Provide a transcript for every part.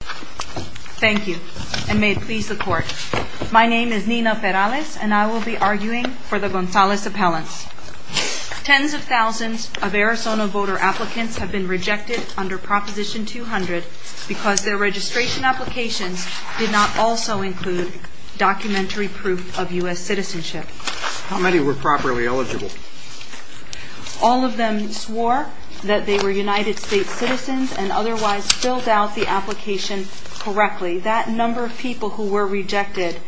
Thank you, and may it please the court. My name is Nina Perales, and I will be arguing for the Gonzalez appellants. Tens of thousands of Arizona voter applicants have been rejected under Proposition 200 because their registration applications did not also include documentary proof of U.S. citizenship. How many were properly eligible? All of them swore that they were United States citizens and otherwise filled out the application correctly. That number of people who were rejected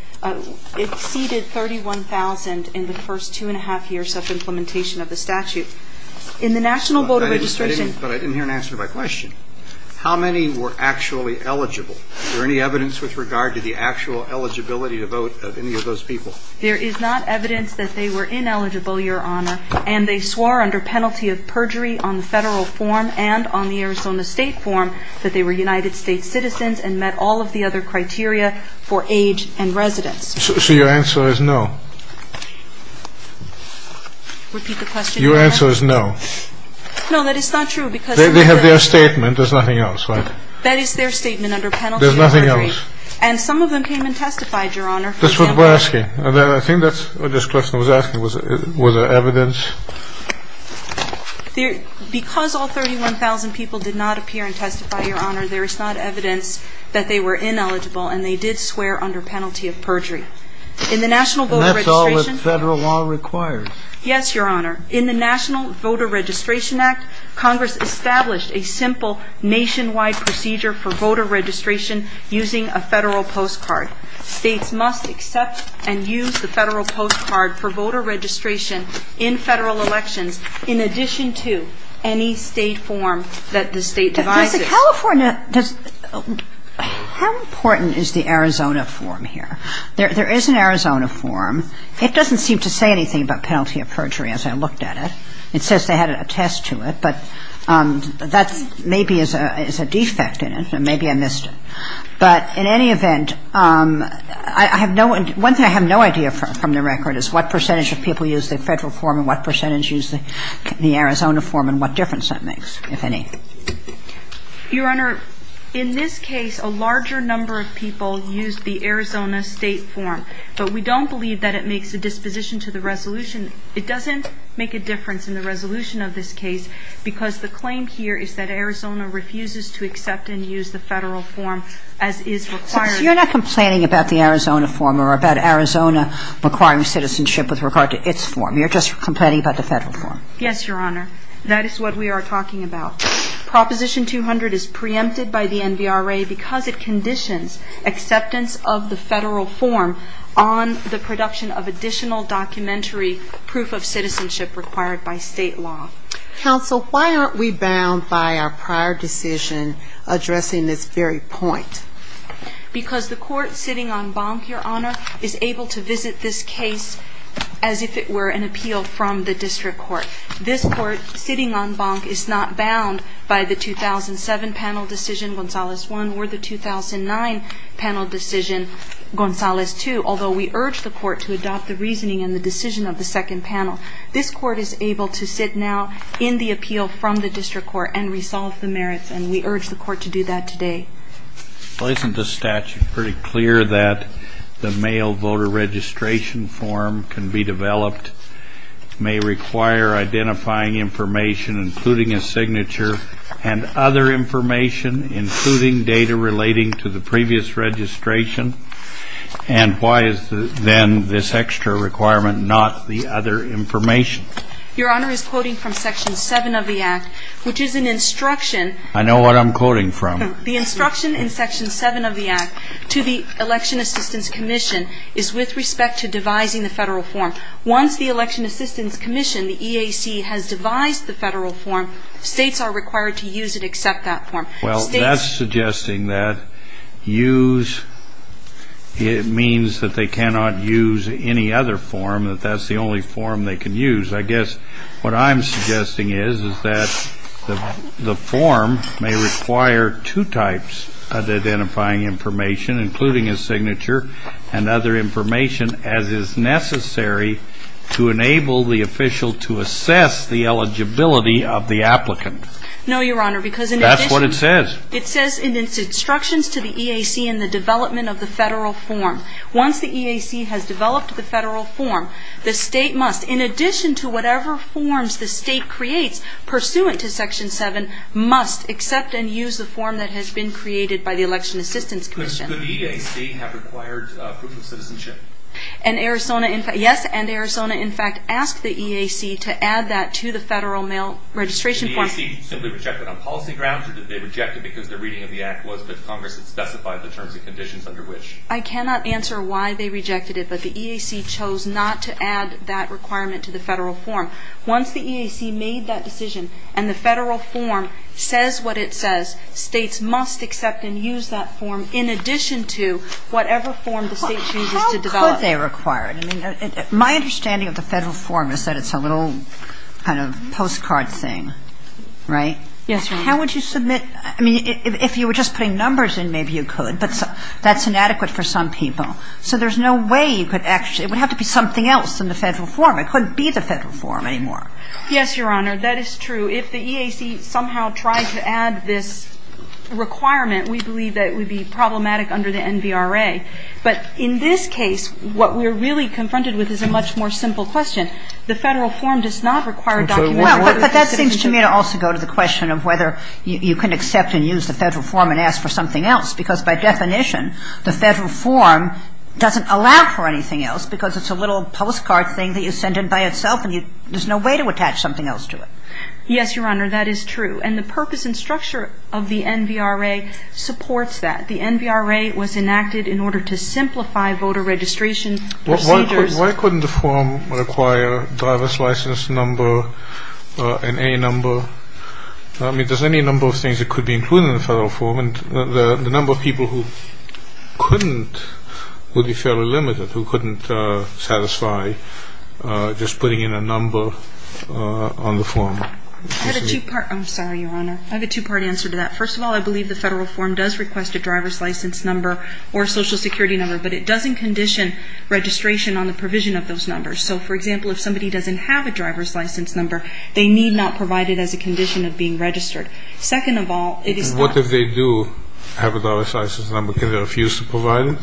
exceeded 31,000 in the first two and a half years of implementation of the statute. In the National Voter Registration But I didn't hear an answer to my question. How many were actually eligible? Is there any evidence with regard to the actual eligibility to vote of any of those people? There is not evidence that they were ineligible, Your Honor, and they swore under penalty of perjury on the federal form and on the Arizona state form that they were United States citizens and met all of the other criteria for age and residence. So your answer is no? Repeat the question, Your Honor. Your answer is no? No, that is not true because They have their statement. There's nothing else, right? That is their statement under penalty of perjury. There's nothing else? And some of them came and testified, Your Honor. That's what we're asking. I think that's what Ms. Klessner was asking. Was there evidence? Because all 31,000 people did not appear and testify, Your Honor, there is not evidence that they were ineligible and they did swear under penalty of perjury. In the National Voter Registration And that's all that federal law requires. Yes, Your Honor. In the National Voter Registration Act, Congress established a simple nationwide procedure for voter registration using a federal postcard. States must accept and use the federal postcard for voter registration in federal elections in addition to any state form that the state devises. But, Ms. California, how important is the Arizona form here? There is an Arizona form. It doesn't seem to say anything about penalty of perjury as I looked at it. It says they had to attest to it, but that maybe is a defect in it and maybe I missed it. But in any event, I have no one thing I have no idea from the record is what percentage of people use the federal form and what percentage use the Arizona form and what difference that makes, if any. Your Honor, in this case, a larger number of people used the Arizona state form, but we don't believe that it makes a disposition to the resolution. It doesn't make a difference in the resolution of this case because the claim here is that Arizona refuses to accept and use the federal form as is required. So you're not complaining about the Arizona form or about Arizona requiring citizenship with regard to its form. You're just complaining about the federal form. Yes, Your Honor. That is what we are talking about. Proposition 200 is preempted by the NVRA because it conditions acceptance of the federal form on the production of additional documentary proof of citizenship required by state law. Counsel, why aren't we bound by our prior decision addressing this very point? Because the court sitting on bonk, Your Honor, is able to visit this case as if it were an appeal from the district court. This court sitting on bonk is not bound by the 2007 panel decision, Gonzalez 1, or the 2009 panel decision, Gonzalez 2, although we urge the court to adopt the reasoning and the decision of the second panel. This court is able to sit now in the appeal from the district court and resolve the merits, and we urge the court to do that today. Well, isn't the statute pretty clear that the mail voter registration form can be developed, may require identifying information, including a signature, and other information, including data relating to the previous registration? And why is then this extra requirement not the other information? Your Honor is quoting from Section 7 of the Act, which is an instruction. I know what I'm quoting from. The instruction in Section 7 of the Act to the Election Assistance Commission is with respect to devising the federal form. Once the Election Assistance Commission, the EAC, has devised the federal form, states are required to use and accept that form. Well, that's suggesting that use means that they cannot use any other form, that that's the only form they can use. I guess what I'm suggesting is that the form may require two types of identifying information, including a signature and other information, as is necessary to enable the official to assess the eligibility of the applicant. No, Your Honor, because in addition... That's what it says. It says in its instructions to the EAC in the development of the federal form, once the EAC has developed the federal form, the state must, in addition to whatever forms the state creates pursuant to Section 7, must accept and use the form that has been created by the Election Assistance Commission. Could the EAC have required proof of citizenship? Yes, and Arizona, in fact, asked the EAC to add that to the federal mail registration form. Was the EAC simply rejected on policy grounds, or did they reject it because their reading of the Act was that Congress had specified the terms and conditions under which? I cannot answer why they rejected it, but the EAC chose not to add that requirement to the federal form. Once the EAC made that decision and the federal form says what it says, states must accept and use that form in addition to whatever form the state chooses to develop. How could they require it? I mean, my understanding of the federal form is that it's a little kind of postcard thing, right? Yes, Your Honor. How would you submit ñ I mean, if you were just putting numbers in, maybe you could, but that's inadequate for some people. So there's no way you could actually ñ it would have to be something else than the federal form. It couldn't be the federal form anymore. Yes, Your Honor, that is true. If the EAC somehow tried to add this requirement, we believe that it would be problematic under the NVRA. But in this case, what we're really confronted with is a much more simple question. The federal form does not require documentation. Well, but that seems to me to also go to the question of whether you can accept and use the federal form and ask for something else, because by definition the federal form doesn't allow for anything else because it's a little postcard thing that you send in by itself and there's no way to attach something else to it. Yes, Your Honor, that is true. And the purpose and structure of the NVRA supports that. The NVRA was enacted in order to simplify voter registration procedures. Why couldn't the form require a driver's license number, an A number? I mean, there's any number of things that could be included in the federal form, and the number of people who couldn't would be fairly limited, who couldn't satisfy just putting in a number on the form. I have a two-part ñ I'm sorry, Your Honor. I have a two-part answer to that. First of all, I believe the federal form does request a driver's license number or a Social Security number, but it doesn't condition registration on the provision of those numbers. So, for example, if somebody doesn't have a driver's license number, they need not provide it as a condition of being registered. Second of all, it is not ñ What if they do have a driver's license number? Can they refuse to provide it?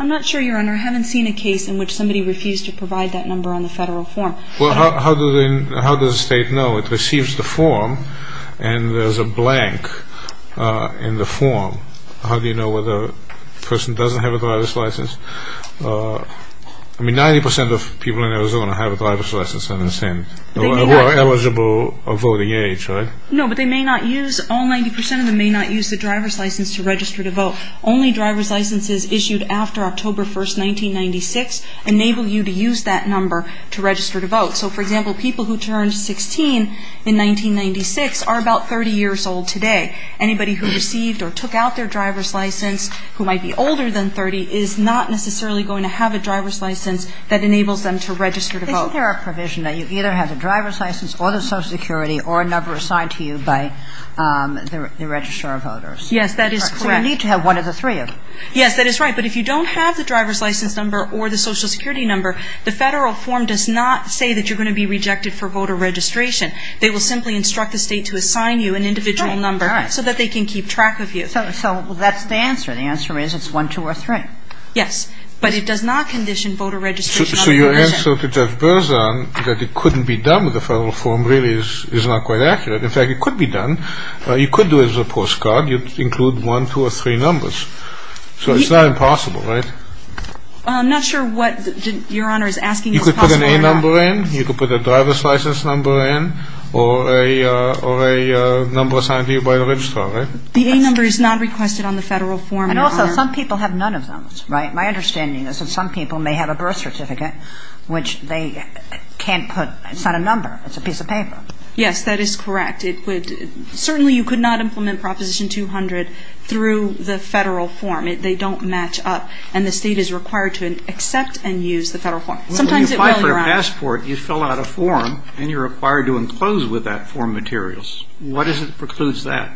I'm not sure, Your Honor. I haven't seen a case in which somebody refused to provide that number on the federal form. Well, how does the State know? It receives the form, and there's a blank in the form. How do you know whether a person doesn't have a driver's license? I mean, 90% of people in Arizona have a driver's license, I understand, who are eligible of voting age, right? No, but they may not use ñ all 90% of them may not use the driver's license to register to vote. Only driver's licenses issued after October 1, 1996, enable you to use that number to register to vote. So, for example, people who turned 16 in 1996 are about 30 years old today. Anybody who received or took out their driver's license who might be older than 30 is not necessarily going to have a driver's license that enables them to register to vote. Isn't there a provision that you either have the driver's license or the Social Security or a number assigned to you by the registrar of voters? Yes, that is correct. So you need to have one of the three of them. Yes, that is right. But if you don't have the driver's license number or the Social Security number, the Federal form does not say that you're going to be rejected for voter registration. They will simply instruct the State to assign you an individual number so that they can keep track of you. So that's the answer. The answer is it's one, two, or three. Yes. But it does not condition voter registration. So your answer to Jeff Berzan that it couldn't be done with the Federal form really is not quite accurate. In fact, it could be done. You could do it as a postcard. You could include one, two, or three numbers. So it's not impossible, right? I'm not sure what Your Honor is asking is possible or not. You could put an A number in. You could put a driver's license number in or a number assigned to you by the registrar, right? The A number is not requested on the Federal form, Your Honor. And also, some people have none of those, right? My understanding is that some people may have a birth certificate, which they can't put. It's not a number. It's a piece of paper. Yes, that is correct. It would certainly you could not implement Proposition 200 through the Federal form. They don't match up. And the State is required to accept and use the Federal form. Sometimes it will, Your Honor. Well, when you apply for a passport, you fill out a form, and you're required to enclose with that form materials. What precludes that?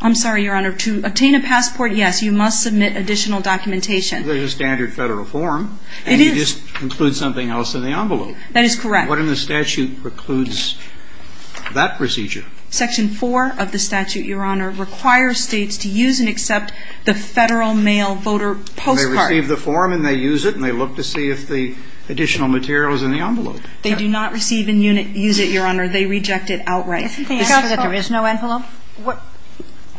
I'm sorry, Your Honor. To obtain a passport, yes, you must submit additional documentation. There's a standard Federal form. It is. And you just include something else in the envelope. That is correct. What in the statute precludes that procedure? Section 4 of the statute, Your Honor, requires States to use and accept the Federal mail voter postcard. They receive the form, and they use it, and they look to see if the additional material is in the envelope. They do not receive and use it, Your Honor. They reject it outright. Isn't the answer that there is no envelope?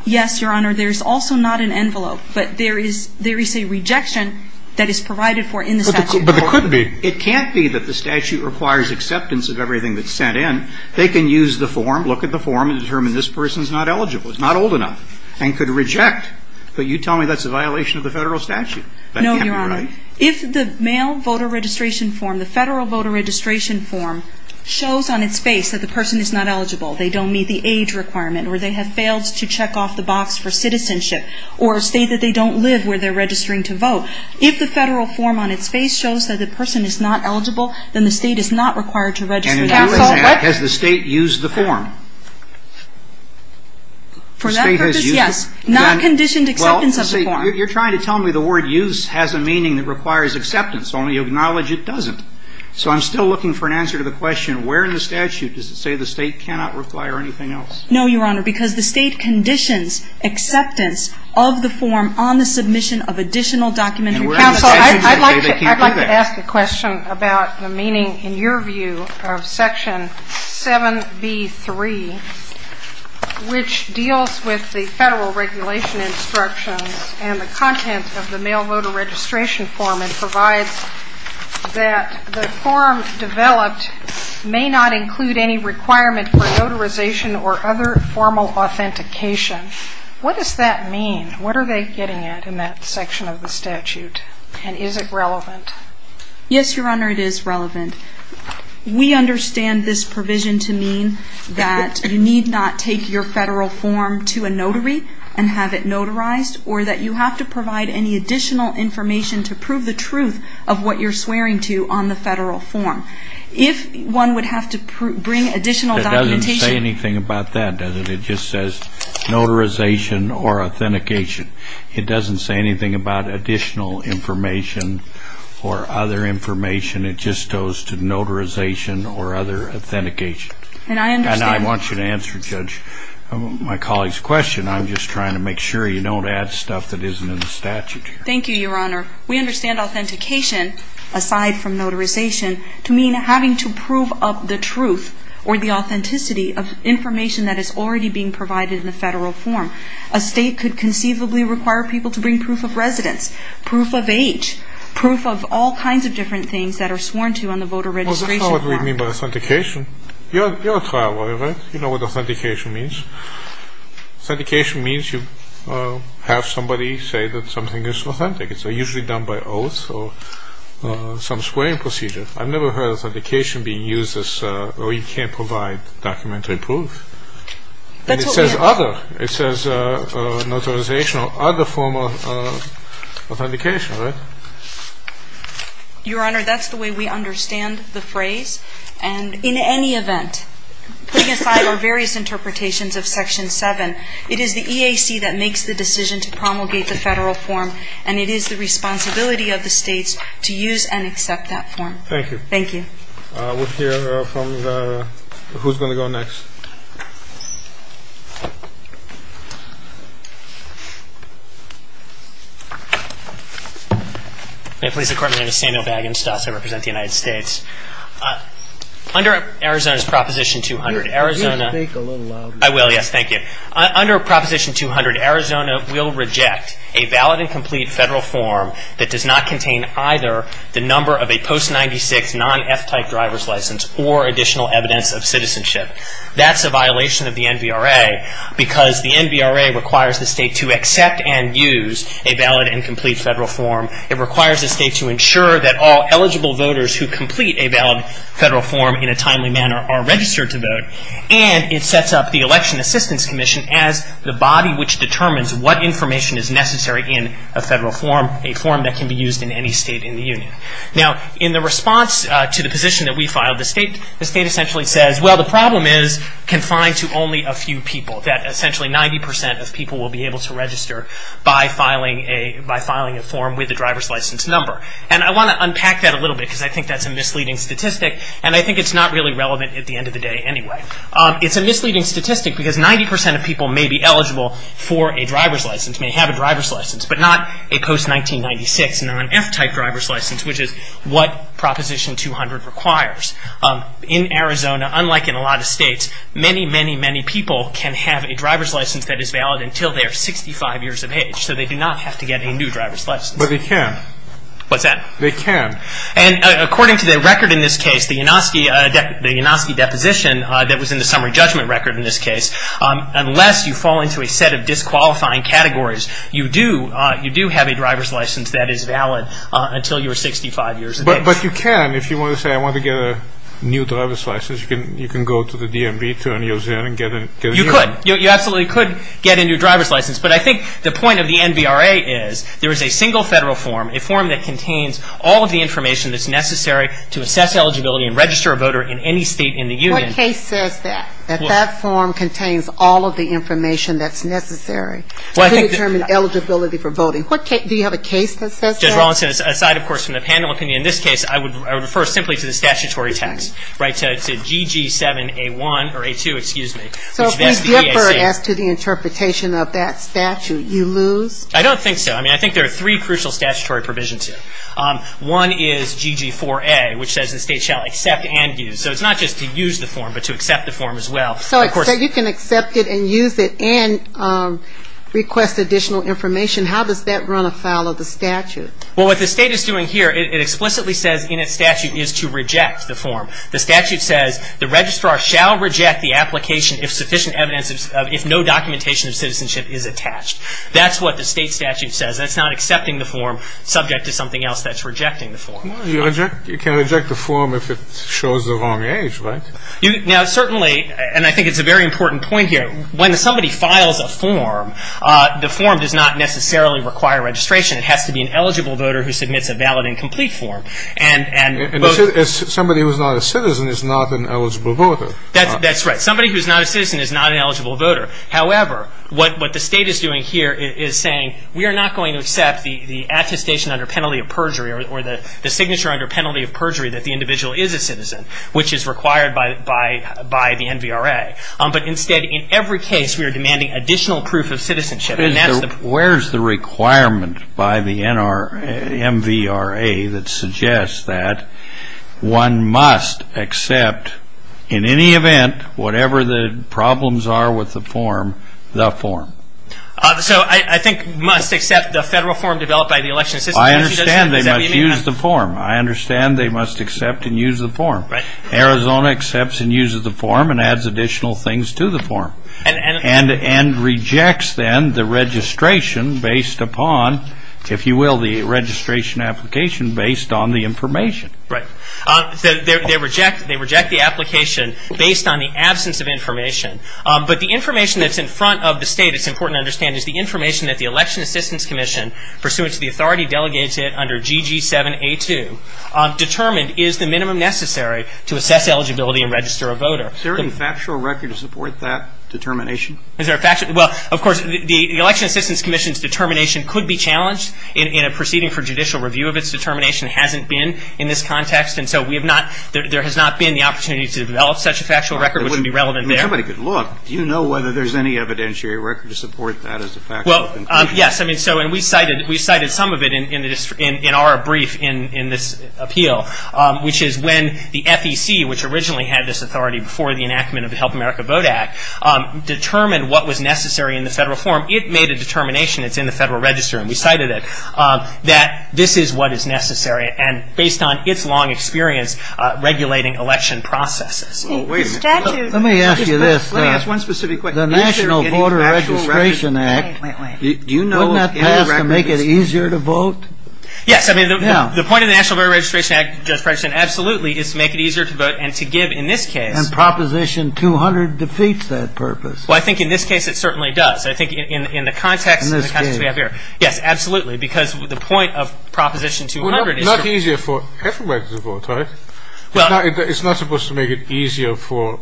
Yes, Your Honor. There's also not an envelope. But there is a rejection that is provided for in the statute. But it could be. It can't be that the statute requires acceptance of everything that's sent in. They can use the form. Look at the form and determine this person is not eligible, is not old enough, and could reject. But you tell me that's a violation of the Federal statute. That can't be right. No, Your Honor. If the mail voter registration form, the Federal voter registration form, shows on its face that the person is not eligible, they don't meet the age requirement, or they have failed to check off the box for citizenship, or state that they don't live where they're registering to vote, if the Federal form on its face shows that the person is not eligible, then the State is not required to register to vote. Counsel, what do you do with that? Has the State used the form? For that purpose, yes. Not conditioned acceptance of the form. You're trying to tell me the word use has a meaning that requires acceptance, only acknowledge it doesn't. So I'm still looking for an answer to the question, where in the statute does it say the State cannot require anything else? No, Your Honor, because the State conditions acceptance of the form on the submission of additional documentary evidence. Counsel, I'd like to ask a question about the meaning, in your view, of setting Section 7B.3, which deals with the Federal regulation instructions and the content of the mail voter registration form and provides that the form developed may not include any requirement for notarization or other formal authentication. What does that mean? What are they getting at in that section of the statute? And is it relevant? Yes, Your Honor, it is relevant. We understand this provision to mean that you need not take your Federal form to a notary and have it notarized or that you have to provide any additional information to prove the truth of what you're swearing to on the Federal form. If one would have to bring additional documentation. It doesn't say anything about that, does it? It just says notarization or authentication. It doesn't say anything about additional information or other information. It just goes to notarization or other authentication. And I understand. And I want you to answer, Judge, my colleague's question. I'm just trying to make sure you don't add stuff that isn't in the statute here. Thank you, Your Honor. We understand authentication, aside from notarization, to mean having to prove up the truth or the authenticity of information that is already being provided in the Federal form. A State could conceivably require people to bring proof of residence, proof of age, proof of all kinds of different things that are sworn to on the voter registration form. Well, that's not what we mean by authentication. You're a trial lawyer, right? You know what authentication means. Authentication means you have somebody say that something is authentic. It's usually done by oath or some swearing procedure. I've never heard authentication being used as, oh, you can't provide documentary proof. That's what we have. Well, it says notarization or other form of authentication, right? Your Honor, that's the way we understand the phrase. And in any event, putting aside our various interpretations of Section 7, it is the EAC that makes the decision to promulgate the Federal form, and it is the responsibility of the States to use and accept that form. Thank you. Thank you. We'll hear from who's going to go next. May it please the Court, my name is Samuel Bagenstos. I represent the United States. Under Arizona's Proposition 200, Arizona Could you speak a little louder? I will, yes. Thank you. Under Proposition 200, Arizona will reject a valid and complete Federal form that does not contain either the number of a post-96 non-F type driver's license or additional evidence of citizenship. That's a violation of the NVRA because the NVRA requires the State to accept and use a valid and complete Federal form. It requires the State to ensure that all eligible voters who complete a valid Federal form in a timely manner are registered to vote. And it sets up the Election Assistance Commission as the body which determines what information is necessary in a Federal form, a form that can be used in any State in the Union. Now, in the response to the position that we filed, the State essentially says, well, the problem is confined to only a few people, that essentially 90% of people will be able to register by filing a form with a driver's license number. And I want to unpack that a little bit because I think that's a misleading statistic, and I think it's not really relevant at the end of the day anyway. It's a misleading statistic because 90% of people may be eligible for a driver's license, may have a driver's license, but not a post-1996 non-F type driver's license, which is what Proposition 200 requires. In Arizona, unlike in a lot of States, many, many, many people can have a driver's license that is valid until they are 65 years of age, so they do not have to get a new driver's license. But they can. What's that? They can. And according to the record in this case, the Yanoski deposition that was in the summary judgment record in this case, unless you fall into a set of disqualifying categories, you do have a driver's license that is valid until you are 65 years of age. But you can. If you want to say I want to get a new driver's license, you can go to the DMV to and get a new one. You could. You absolutely could get a new driver's license. But I think the point of the NBRA is there is a single Federal form, a form that contains all of the information that's necessary to assess eligibility and register a voter in any State in the union. What case says that, that that form contains all of the information that's necessary to determine eligibility for voting? Do you have a case that says that? Judge Rawlinson, aside, of course, from the panel opinion, in this case I would refer simply to the statutory text, right, to GG7A1 or A2, excuse me. So if we differ as to the interpretation of that statute, you lose? I don't think so. I mean, I think there are three crucial statutory provisions here. One is GG4A, which says the State shall accept and use. So it's not just to use the form, but to accept the form as well. So you can accept it and use it and request additional information. How does that run afoul of the statute? Well, what the State is doing here, it explicitly says in its statute is to reject the form. The statute says the registrar shall reject the application if sufficient evidence, if no documentation of citizenship is attached. That's what the State statute says. That's not accepting the form subject to something else that's rejecting the form. You can reject the form if it shows the wrong age, right? Now, certainly, and I think it's a very important point here, when somebody files a form, the form does not necessarily require registration. It has to be an eligible voter who submits a valid and complete form. And somebody who's not a citizen is not an eligible voter. That's right. Somebody who's not a citizen is not an eligible voter. However, what the State is doing here is saying, we are not going to accept the attestation under penalty of perjury or the signature under penalty of perjury that the individual is a citizen, which is required by the NVRA. But instead, in every case, we are demanding additional proof of citizenship. Where's the requirement by the NVRA that suggests that one must accept, in any event, whatever the problems are with the form, the form? So I think must accept the federal form developed by the Election Assistance Commission. I understand they must use the form. I understand they must accept and use the form. Arizona accepts and uses the form and adds additional things to the form and rejects then the registration based upon, if you will, the registration application based on the information. Right. They reject the application based on the absence of information. But the information that's in front of the State, it's important to understand, is the information that the Election Assistance Commission, pursuant to the authority delegated under GG7A2, determined is the minimum necessary to assess eligibility and register a voter. Is there any factual record to support that determination? Well, of course, the Election Assistance Commission's determination could be challenged in a proceeding for judicial review of its determination. It hasn't been in this context. And so there has not been the opportunity to develop such a factual record, which would be relevant there. If somebody could look, do you know whether there's any evidentiary record to support that as a factual conclusion? Well, yes. I mean, so we cited some of it in our brief in this appeal, which is when the FEC, which originally had this authority before the enactment of the Help America Vote Act, determined what was necessary in the federal form. It made a determination. It's in the Federal Register. And we cited it, that this is what is necessary. And based on its long experience regulating election processes. Let me ask you this. Let me ask one specific question. The National Voter Registration Act, wouldn't that pass to make it easier to vote? Yes. I mean, the point of the National Voter Registration Act, Judge Preston, absolutely is to make it easier to vote and to give, in this case. And Proposition 200 defeats that purpose. Well, I think in this case it certainly does. I think in the context we have here. Yes, absolutely. Because the point of Proposition 200 is to. Well, not easier for everybody to vote, right? Well. It's not supposed to make it easier for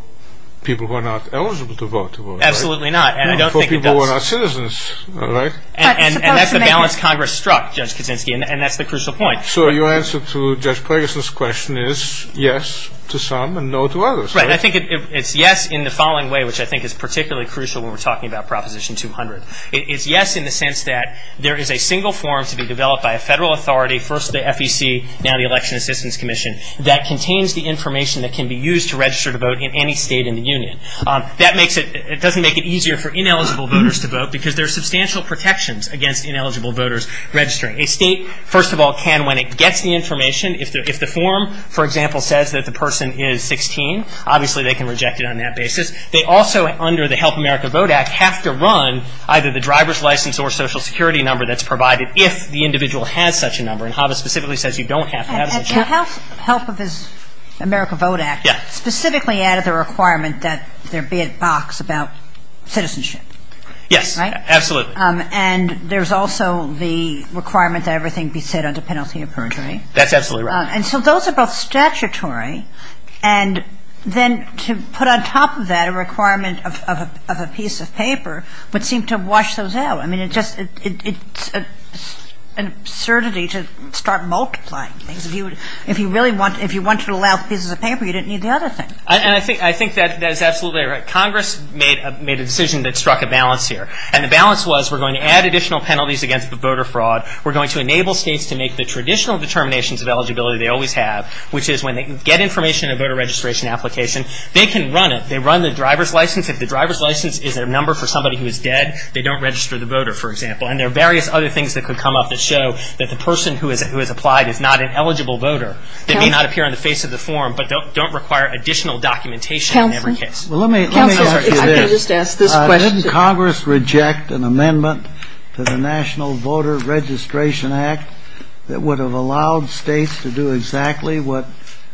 people who are not eligible to vote to vote, right? Absolutely not. And I don't think it does. For people who are not citizens, right? And that's the balance Congress struck, Judge Kuczynski. And that's the crucial point. So your answer to Judge Preggison's question is yes to some and no to others, right? Right. I think it's yes in the following way, which I think is particularly crucial when we're talking about Proposition 200. It's yes in the sense that there is a single form to be developed by a federal authority, first the FEC, now the Election Assistance Commission, that contains the information that can be used to register to vote in any state in the union. That makes it. It doesn't make it easier for ineligible voters to vote because there are substantial protections against ineligible voters registering. A state, first of all, can, when it gets the information. If the form, for example, says that the person is 16, obviously they can reject it on that basis. They also, under the Help America Vote Act, have to run either the driver's license or social security number that's provided if the individual has such a number. And HAVA specifically says you don't have to have such a number. And the Help America Vote Act specifically added the requirement that there be a box about citizenship, right? Yes, absolutely. And there's also the requirement that everything be set under penalty of perjury. That's absolutely right. And so those are both statutory. And then to put on top of that a requirement of a piece of paper would seem to wash those out. I mean, it's just an absurdity to start multiplying things. If you really want to allow pieces of paper, you didn't need the other thing. And I think that is absolutely right. Congress made a decision that struck a balance here. And the balance was we're going to add additional penalties against the voter fraud. We're going to enable states to make the traditional determinations of eligibility they always have, which is when they get information in a voter registration application, they can run it. They run the driver's license. If the driver's license is a number for somebody who is dead, they don't register the voter, for example. And there are various other things that could come up that show that the person who has applied is not an eligible voter that may not appear on the face of the form but don't require additional documentation in every case. Counselor? Counselor, if I could just ask this question. Didn't Congress reject an amendment to the National Voter Registration Act that would have allowed states to do exactly what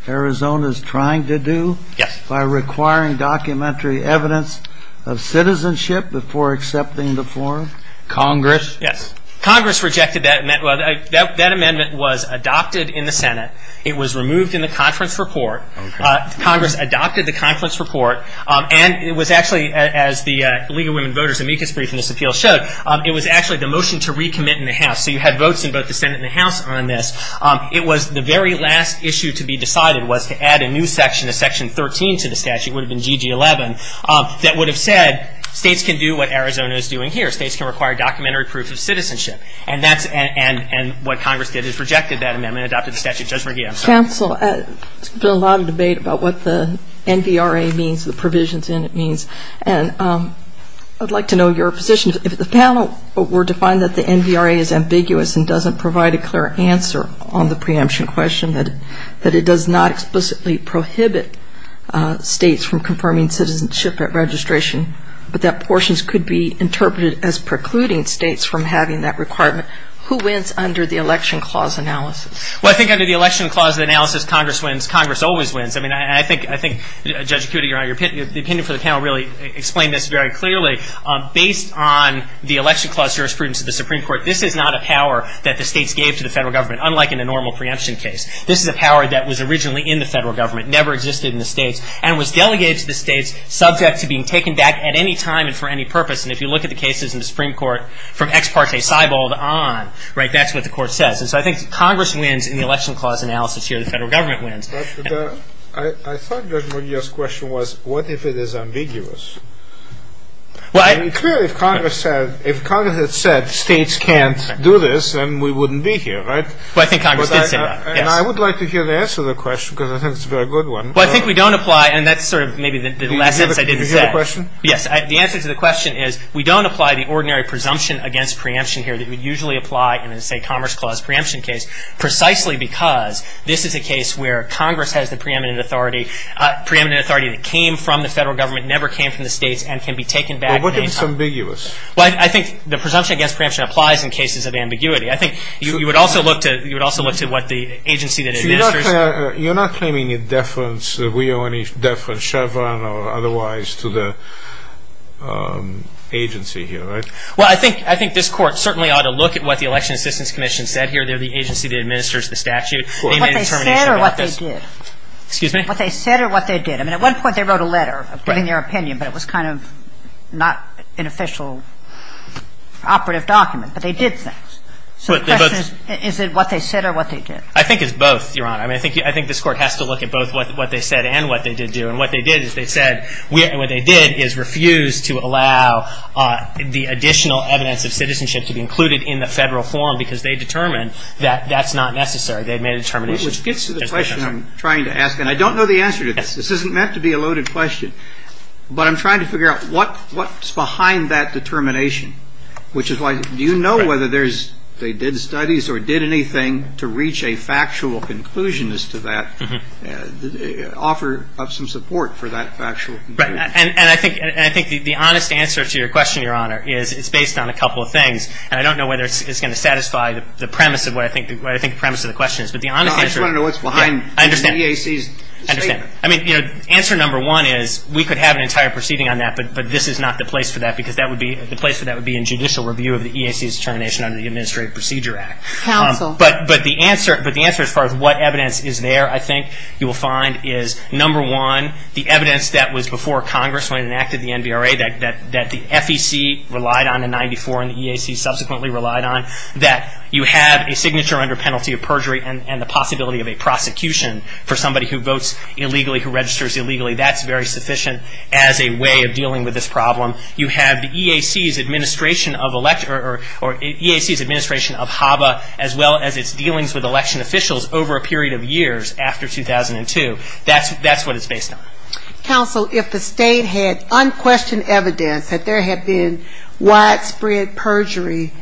Arizona is trying to do? Yes. By requiring documentary evidence of citizenship before accepting the form? Congress? Yes. Congress rejected that amendment. That amendment was adopted in the Senate. It was removed in the conference report. Congress adopted the conference report. And it was actually, as the League of Women Voters' amicus brief in this appeal showed, it was actually the motion to recommit in the House. So you had votes in both the Senate and the House on this. It was the very last issue to be decided was to add a new section, a section 13 to the statute, it would have been GG11, that would have said states can do what Arizona is doing here. States can require documentary proof of citizenship. And what Congress did is rejected that amendment, adopted the statute. Judge McGee, I'm sorry. Counsel, there's been a lot of debate about what the NVRA means, the provisions in it means. And I'd like to know your position. If the panel were to find that the NVRA is ambiguous and doesn't provide a clear answer on the preemption question, that it does not explicitly prohibit states from confirming citizenship registration, but that portions could be interpreted as precluding states from having that requirement, who wins under the election clause analysis? Well, I think under the election clause analysis, Congress wins. Congress always wins. I mean, I think, Judge Cuda, the opinion for the panel really explained this very clearly. Based on the election clause jurisprudence of the Supreme Court, this is not a power that the states gave to the federal government, unlike in a normal preemption case. This is a power that was originally in the federal government, never existed in the states, and was delegated to the states subject to being taken back at any time and for any purpose. And if you look at the cases in the Supreme Court from ex parte, Seibold on, right, that's what the court says. And so I think Congress wins in the election clause analysis here. The federal government wins. But I thought Judge Muglia's question was, what if it is ambiguous? Well, I mean, clearly, if Congress had said states can't do this, then we wouldn't be here, right? Well, I think Congress did say that, yes. And I would like to hear the answer to the question, because I think it's a very good one. Well, I think we don't apply, and that's sort of maybe the lessons I didn't say. Do you have a question? Yes. The answer to the question is we don't apply the ordinary presumption against preemption here that we usually apply in a, say, Commerce Clause preemption case, precisely because this is a case where Congress has the preeminent authority, preeminent authority that came from the federal government, never came from the states, and can be taken back at any time. Well, what if it's ambiguous? Well, I think the presumption against preemption applies in cases of ambiguity. I think you would also look to what the agency that administers. You're not claiming a deference that we owe any deference, Chevron or otherwise, to the agency here, right? Well, I think this court certainly ought to look at what the Election Assistance Commission said here. They're the agency that administers the statute. They made a determination about this. Well, what they said or what they did? Excuse me? What they said or what they did? I mean, at one point they wrote a letter giving their opinion, but it was kind of not an official operative document. But they did things. So the question is, is it what they said or what they did? I think it's both, Your Honor. I mean, I think this court has to look at both what they said and what they did do. And what they did is they said, and what they did is refuse to allow the additional evidence of citizenship to be included in the federal form because they determined that that's not necessary. They made a determination. Which gets to the question I'm trying to ask, and I don't know the answer to this. This isn't meant to be a loaded question, but I'm trying to figure out what's behind that determination, which is why do you know whether they did studies or did anything to reach a factual conclusion as to that, offer up some support for that factual conclusion? And I think the honest answer to your question, Your Honor, is it's based on a couple of things. And I don't know whether it's going to satisfy the premise of what I think the premise of the question is. But the honest answer is. No, I just want to know what's behind the EAC's statement. I understand. I mean, you know, answer number one is we could have an entire proceeding on that, but this is not the place for that because the place for that would be in judicial review of the EAC's determination under the Administrative Procedure Act. Counsel. But the answer as far as what evidence is there, I think, you will find is, number one, the evidence that was before Congress when it enacted the NVRA that the FEC relied on in 94 and the EAC subsequently relied on, that you have a signature under penalty of perjury and the possibility of a prosecution for somebody who votes illegally, who registers illegally. That's very sufficient as a way of dealing with this problem. You have the EAC's administration of HABA as well as its dealings with election officials over a period of years after 2002. That's what it's based on. Counsel, if the state had unquestioned evidence that there had been widespread perjury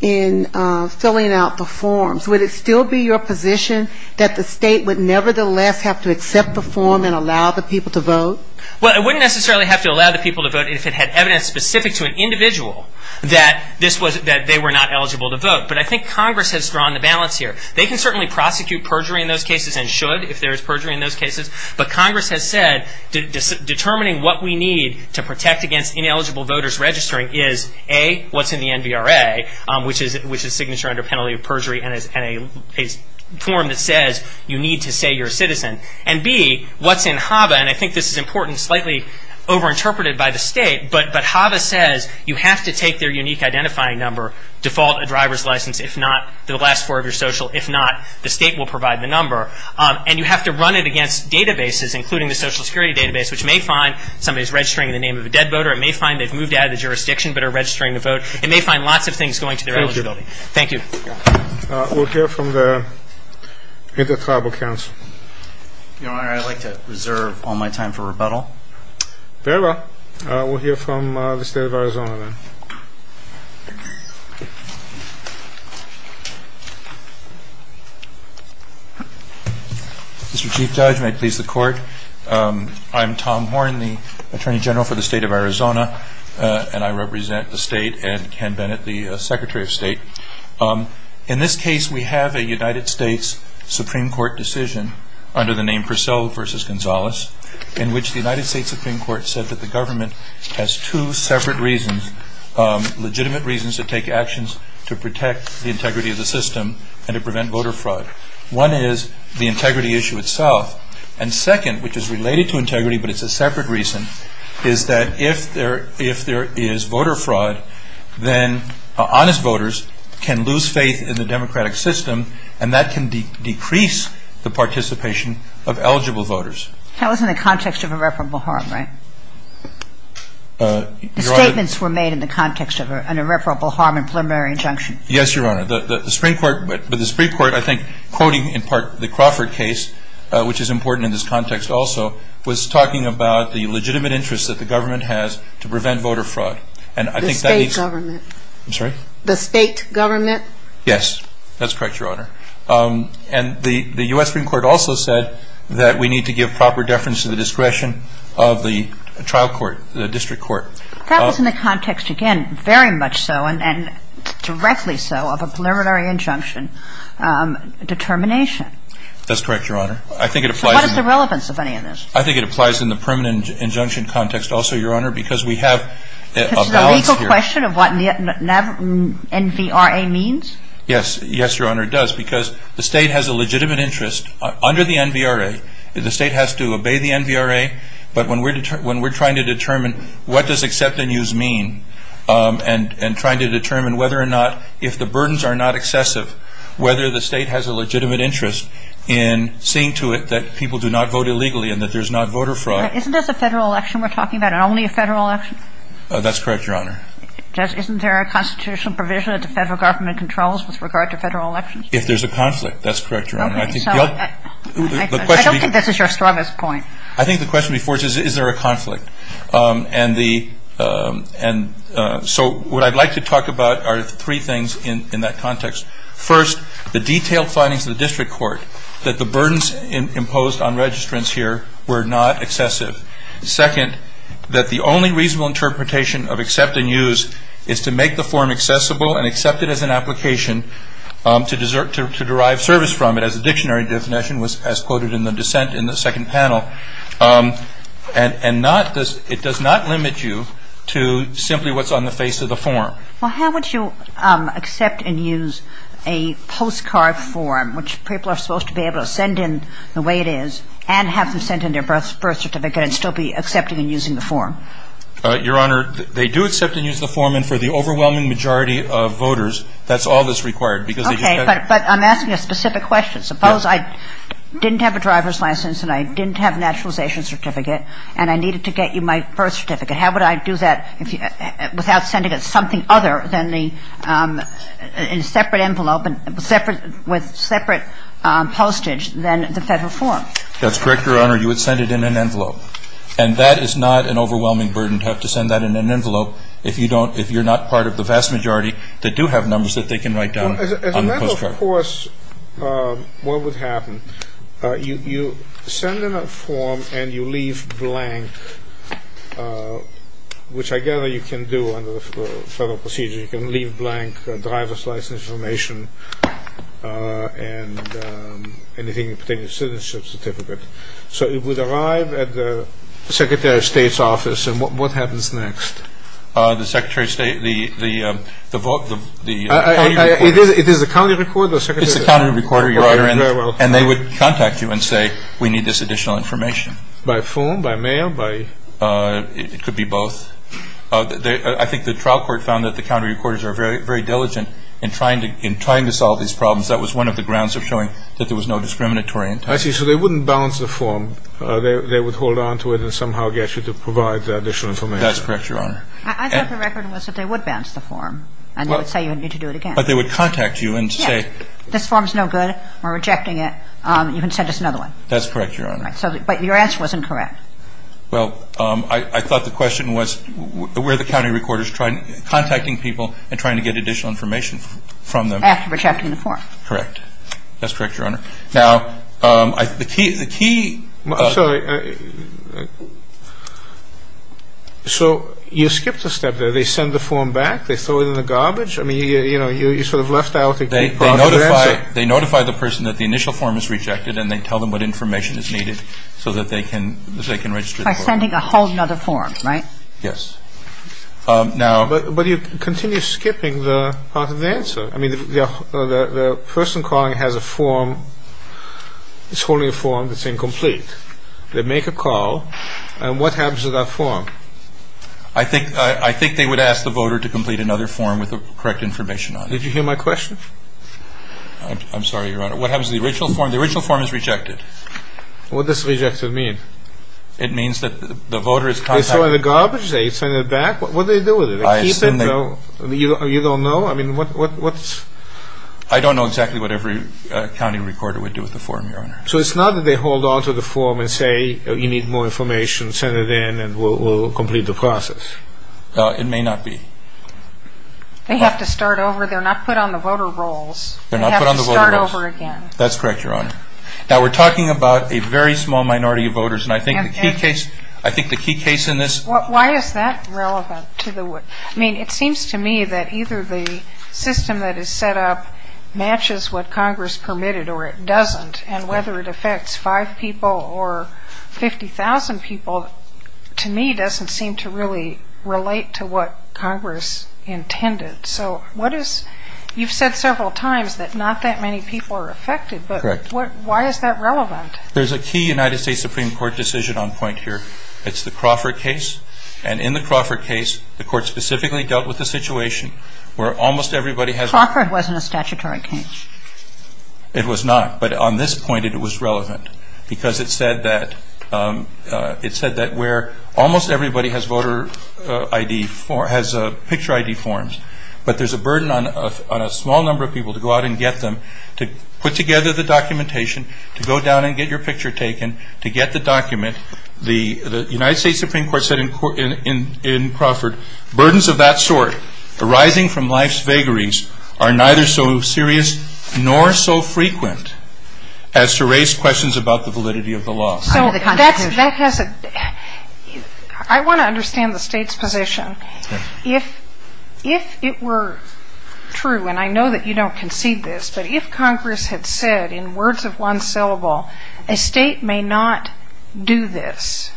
in filling out the forms, would it still be your position that the state would nevertheless have to accept the form and allow the people to vote? Well, it wouldn't necessarily have to allow the people to vote if it had evidence specific to an individual that they were not eligible to vote. But I think Congress has drawn the balance here. They can certainly prosecute perjury in those cases and should if there is perjury in those cases, but Congress has said determining what we need to protect against ineligible voters registering is, A, what's in the NVRA, which is signature under penalty of perjury and a form that says you need to say you're a citizen, and B, what's in HABA, and I think this is important, slightly overinterpreted by the state, but HABA says you have to take their unique identifying number, default a driver's license, if not the last four of your social, if not the state will provide the number, and you have to run it against databases, including the Social Security database, which may find somebody is registering in the name of a dead voter. It may find they've moved out of the jurisdiction but are registering to vote. It may find lots of things going to their eligibility. Thank you. We'll hear from the Inter-Tribal Council. Your Honor, I'd like to reserve all my time for rebuttal. Very well. We'll hear from the State of Arizona then. Mr. Chief Judge, may it please the Court, I'm Tom Horne, the Attorney General for the State of Arizona, and I represent the State and Ken Bennett, the Secretary of State. In this case, we have a United States Supreme Court decision under the name Purcell v. Gonzalez in which the United States Supreme Court said that the government has two separate reasons, legitimate reasons to take actions to protect the integrity of the system and to prevent voter fraud. One is the integrity issue itself, and second, which is related to integrity but it's a separate reason, is that if there is voter fraud, then honest voters can lose faith in the democratic system and that can decrease the participation of eligible voters. That was in the context of irreparable harm, right? Your Honor. The statements were made in the context of an irreparable harm and preliminary injunction. Yes, Your Honor. The Supreme Court, I think, quoting in part the Crawford case, which is important in this context also, was talking about the legitimate interest that the government has to prevent voter fraud. The state government. I'm sorry? The state government. Yes. That's correct, Your Honor. And the U.S. Supreme Court also said that we need to give proper deference to the discretion of the trial court, the district court. That was in the context, again, very much so, and directly so, of a preliminary injunction determination. That's correct, Your Honor. I think it applies. So what is the relevance of any of this? I think it applies in the permanent injunction context also, Your Honor, because we have a balance here. Because it's a legal question of what NVRA means? Yes. Yes, Your Honor, it does. Because the state has a legitimate interest under the NVRA. The state has to obey the NVRA. But when we're trying to determine what does accept and use mean, and trying to determine whether or not if the burdens are not excessive, whether the state has a legitimate interest in seeing to it that people do not vote illegally and that there's not voter fraud. Isn't this a federal election we're talking about, and only a federal election? That's correct, Your Honor. Isn't there a constitutional provision that the federal government controls with regard to federal elections? If there's a conflict. That's correct, Your Honor. I don't think this is your strongest point. I think the question before us is, is there a conflict? And so what I'd like to talk about are three things in that context. First, the detailed findings of the district court, that the burdens imposed on registrants here were not excessive. Second, that the only reasonable interpretation of accept and use is to make the form accessible and accept it as an application to derive service from it, as the dictionary definition was as quoted in the dissent in the second panel. And it does not limit you to simply what's on the face of the form. Well, how would you accept and use a postcard form, which people are supposed to be able to send in the way it is and have them send in their birth certificate and still be accepting and using the form? Your Honor, they do accept and use the form. And for the overwhelming majority of voters, that's all that's required. Okay. But I'm asking a specific question. Suppose I didn't have a driver's license and I didn't have a naturalization certificate and I needed to get you my birth certificate. How would I do that without sending something other than the separate envelope with separate postage than the federal form? That's correct, Your Honor. You would send it in an envelope. And that is not an overwhelming burden to have to send that in an envelope if you're not part of the vast majority that do have numbers that they can write down on the postcard. As a matter of course, what would happen, you send in a form and you leave blank, which I gather you can do under the federal procedure. You can leave blank driver's license information and anything pertaining to citizenship certificate. So it would arrive at the Secretary of State's office and what happens next? The Secretary of State, the vote, the county recorder. It is the county recorder? It's the county recorder, Your Honor. And they would contact you and say, we need this additional information. By phone, by mail, by? It could be both. I think the trial court found that the county recorders are very diligent in trying to solve these problems. That was one of the grounds of showing that there was no discriminatory intent. I see. So they wouldn't bounce the form. They would hold on to it and somehow get you to provide the additional information. That's correct, Your Honor. I thought the record was that they would bounce the form and they would say you would need to do it again. But they would contact you and say. Yes. This form is no good. We're rejecting it. You can send us another one. That's correct, Your Honor. But your answer wasn't correct. Well, I thought the question was, were the county recorders contacting people and trying to get additional information from them? After rejecting the form. Correct. That's correct, Your Honor. Now, the key. I'm sorry. So you skipped a step there. They send the form back. They throw it in the garbage. I mean, you sort of left out the key part of your answer. They notify the person that the initial form is rejected and they tell them what information is needed so that they can, so they can register the form. By sending a whole other form, right? Yes. Now. But you continue skipping the part of the answer. I mean, the person calling has a form. It's only a form that's incomplete. They make a call. And what happens to that form? I think they would ask the voter to complete another form with the correct information on it. Did you hear my question? I'm sorry, Your Honor. What happens to the original form? The original form is rejected. What does rejected mean? It means that the voter has contacted. They throw it in the garbage? They send it back? What do they do with it? They keep it? I assume they. You don't know? I mean, what's. I don't know exactly what every county recorder would do with the form, Your Honor. So it's not that they hold on to the form and say, you need more information. Send it in and we'll complete the process. It may not be. They have to start over. They're not put on the voter rolls. They're not put on the voter rolls. They have to start over again. That's correct, Your Honor. Now, we're talking about a very small minority of voters. And I think the key case in this. Why is that relevant? I mean, it seems to me that either the system that is set up matches what Congress permitted or it doesn't. And whether it affects five people or 50,000 people, to me, doesn't seem to really relate to what Congress intended. So what is... You've said several times that not that many people are affected. Correct. But why is that relevant? There's a key United States Supreme Court decision on point here. It's the Crawford case. And in the Crawford case, the Court specifically dealt with the situation where almost everybody has... Crawford wasn't a statutory case. It was not. But on this point, it was relevant because it said that where almost everybody has voter ID, has picture ID forms, but there's a burden on a small number of people to go out and get them, to put together the documentation, to go down and get your picture taken, to get the document. The United States Supreme Court said in Crawford, burdens of that sort arising from life's vagaries are neither so serious nor so frequent as to raise questions about the validity of the law. So that has a... I want to understand the State's position. If it were true, and I know that you don't concede this, but if Congress had said in words of one syllable, a State may not do this,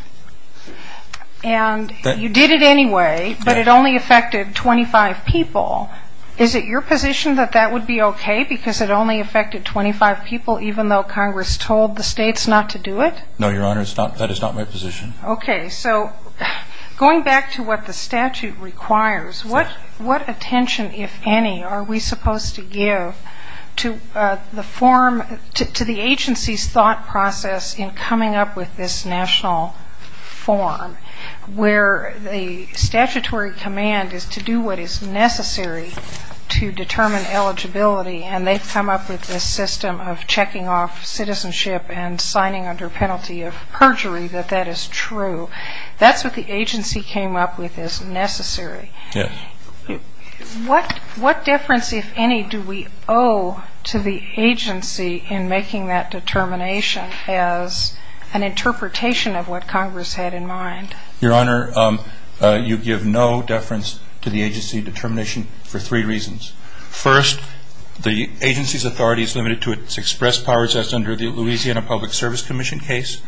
and you did it anyway, but it only affected 25 people, is it your position that that would be okay because it only affected 25 people, even though Congress told the States not to do it? No, Your Honor, that is not my position. Okay. So going back to what the statute requires, what attention, if any, are we supposed to give to the agency's thought process in coming up with this national form where the statutory command is to do what is necessary to determine eligibility, and they've come up with this system of checking off citizenship and signing under penalty of perjury, that that is true. That's what the agency came up with as necessary. Yes. What difference, if any, do we owe to the agency in making that determination as an interpretation of what Congress had in mind? Your Honor, you give no deference to the agency determination for three reasons. First, the agency's authority is limited to its express powers as under the Louisiana Public Service Commission case,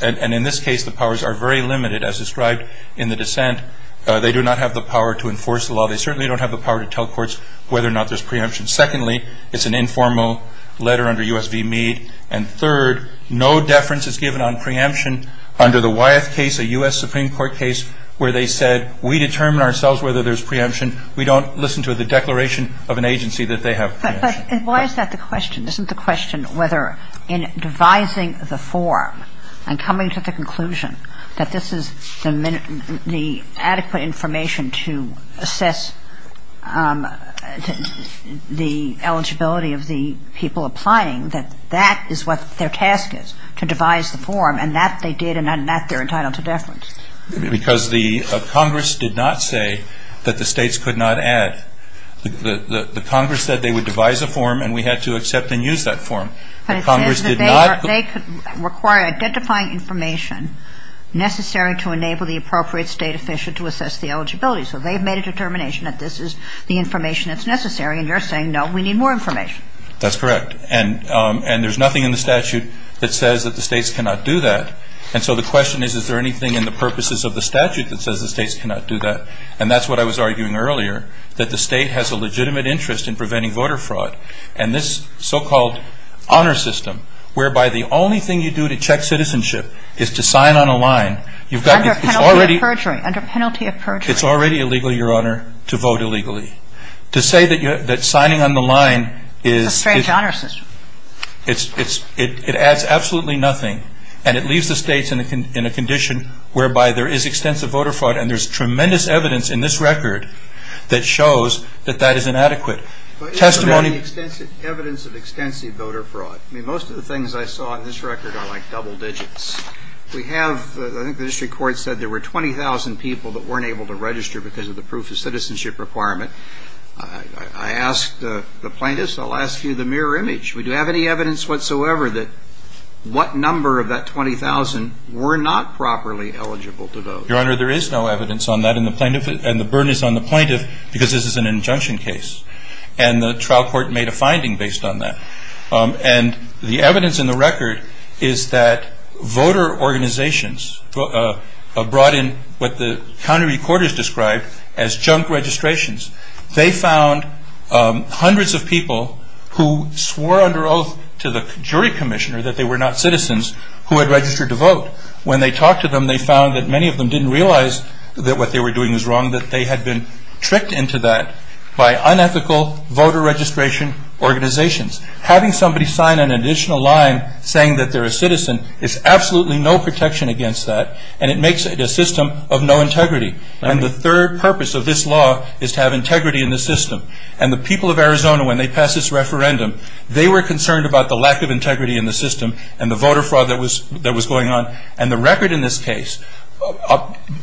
and in this case the powers are very limited as described in the dissent. They do not have the power to enforce the law. They certainly don't have the power to tell courts whether or not there's preemption. Secondly, it's an informal letter under U.S. v. Meade, and third, no deference is given on preemption under the Wyeth case, a U.S. Supreme Court case, where they said we determine ourselves whether there's preemption. We don't listen to the declaration of an agency that they have preemption. But why is that the question? Isn't the question whether in devising the form and coming to the conclusion that this is the adequate information to assess the eligibility of the people applying, that that is what their task is, to devise the form, Because the Congress did not say that the states could not add. The Congress said they would devise a form, and we had to accept and use that form. But it says that they could require identifying information necessary to enable the appropriate state official to assess the eligibility. So they've made a determination that this is the information that's necessary, and you're saying, no, we need more information. That's correct. And there's nothing in the statute that says that the states cannot do that. And so the question is, is there anything in the purposes of the statute that says the states cannot do that? And that's what I was arguing earlier, that the state has a legitimate interest in preventing voter fraud. And this so-called honor system, whereby the only thing you do to check citizenship is to sign on a line, you've got Under penalty of perjury. It's already illegal, Your Honor, to vote illegally. To say that signing on the line is It's a strange honor system. It adds absolutely nothing. And it leaves the states in a condition whereby there is extensive voter fraud. And there's tremendous evidence in this record that shows that that is inadequate. Evidence of extensive voter fraud. I mean, most of the things I saw in this record are like double digits. We have, I think the district court said there were 20,000 people that weren't able to register because of the proof of citizenship requirement. I asked the plaintiffs, I'll ask you the mirror image. Would you have any evidence whatsoever that what number of that 20,000 were not properly eligible to vote? Your Honor, there is no evidence on that, and the burden is on the plaintiff because this is an injunction case. And the trial court made a finding based on that. And the evidence in the record is that voter organizations brought in what the county recorders described as junk registrations. They found hundreds of people who swore under oath to the jury commissioner that they were not citizens who had registered to vote. When they talked to them, they found that many of them didn't realize that what they were doing was wrong, that they had been tricked into that by unethical voter registration organizations. Having somebody sign an additional line saying that they're a citizen is absolutely no protection against that, and it makes it a system of no integrity. And the third purpose of this law is to have integrity in the system. And the people of Arizona, when they passed this referendum, they were concerned about the lack of integrity in the system and the voter fraud that was going on. And the record in this case,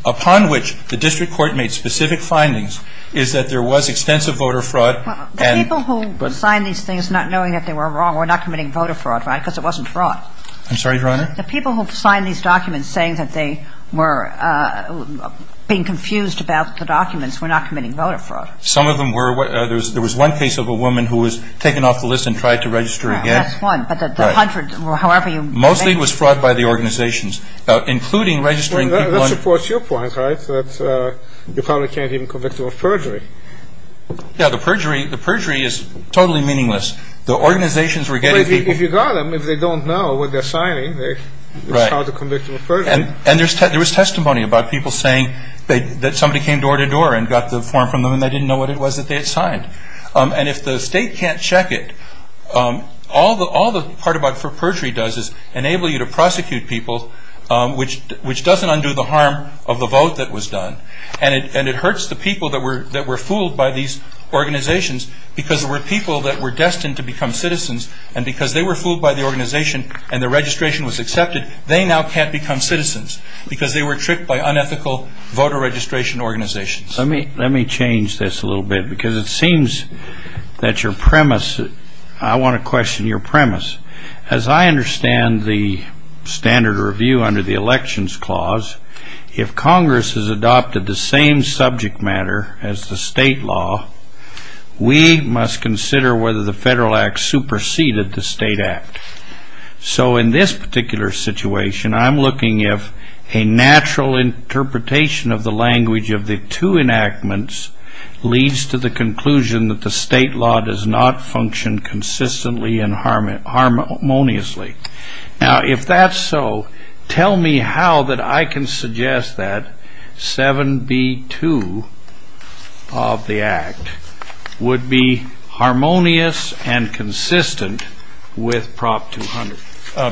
upon which the district court made specific findings, is that there was extensive voter fraud. And the people who signed these things not knowing that they were wrong were not committing voter fraud, right? Because it wasn't fraud. I'm sorry, Your Honor? The people who signed these documents saying that they were being confused about the documents were not committing voter fraud. Some of them were. There was one case of a woman who was taken off the list and tried to register again. That's one. But the hundreds, however you make it. Mostly it was fraud by the organizations, including registering people on. Well, that supports your point, right, that you probably can't even convict them of perjury. Yeah, the perjury is totally meaningless. The organizations were getting people. If you got them, if they don't know what they're signing, it's hard to convict them of perjury. And there was testimony about people saying that somebody came door to door and got the form from them and they didn't know what it was that they had signed. And if the state can't check it, all the part about what perjury does is enable you to prosecute people, which doesn't undo the harm of the vote that was done. And it hurts the people that were fooled by these organizations because there were people that were destined to become citizens. And because they were fooled by the organization and the registration was accepted, they now can't become citizens because they were tricked by unethical voter registration organizations. Let me change this a little bit because it seems that your premise, I want to question your premise. As I understand the standard review under the Elections Clause, if Congress has adopted the same subject matter as the state law, we must consider whether the Federal Act superseded the state act. So in this particular situation, I'm looking if a natural interpretation of the language of the two enactments leads to the conclusion that the state law does not function consistently and harmoniously. Now, if that's so, tell me how that I can suggest that 7B2 of the act would be harmonious and consistent with Prop 200.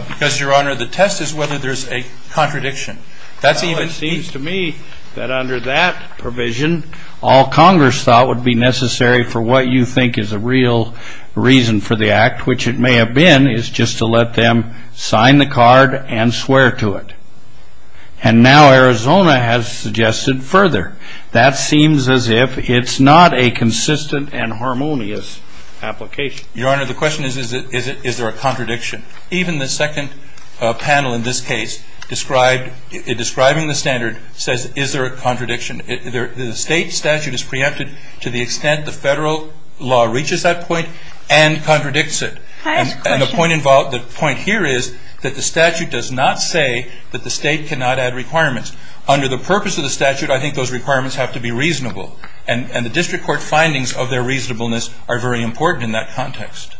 Because, Your Honor, the test is whether there's a contradiction. It seems to me that under that provision, all Congress thought would be necessary for what you think is a real reason for the act, which it may have been, is just to let them sign the card and swear to it. And now Arizona has suggested further. That seems as if it's not a consistent and harmonious application. Your Honor, the question is, is there a contradiction? Even the second panel in this case, describing the standard, says, is there a contradiction? The state statute is preempted to the extent the federal law reaches that point and contradicts it. And the point here is that the statute does not say that the state cannot add requirements. Under the purpose of the statute, I think those requirements have to be reasonable. And the district court findings of their reasonableness are very important in that context.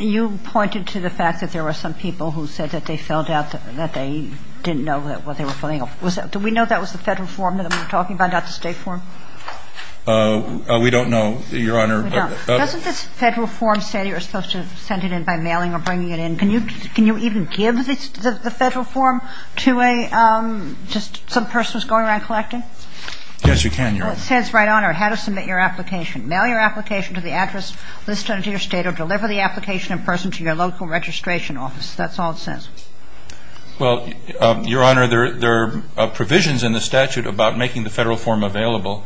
You pointed to the fact that there were some people who said that they felt out, that they didn't know what they were filling out. Do we know that was the federal form that we're talking about, not the state form? We don't know, Your Honor. We don't. Doesn't this federal form say you're supposed to send it in by mailing or bringing it in? Can you even give the federal form to some person who's going around collecting? Yes, you can, Your Honor. It says right on there, how to submit your application. Mail your application to the address listed under your state or deliver the application in person to your local registration office. That's all it says. Well, Your Honor, there are provisions in the statute about making the federal form available.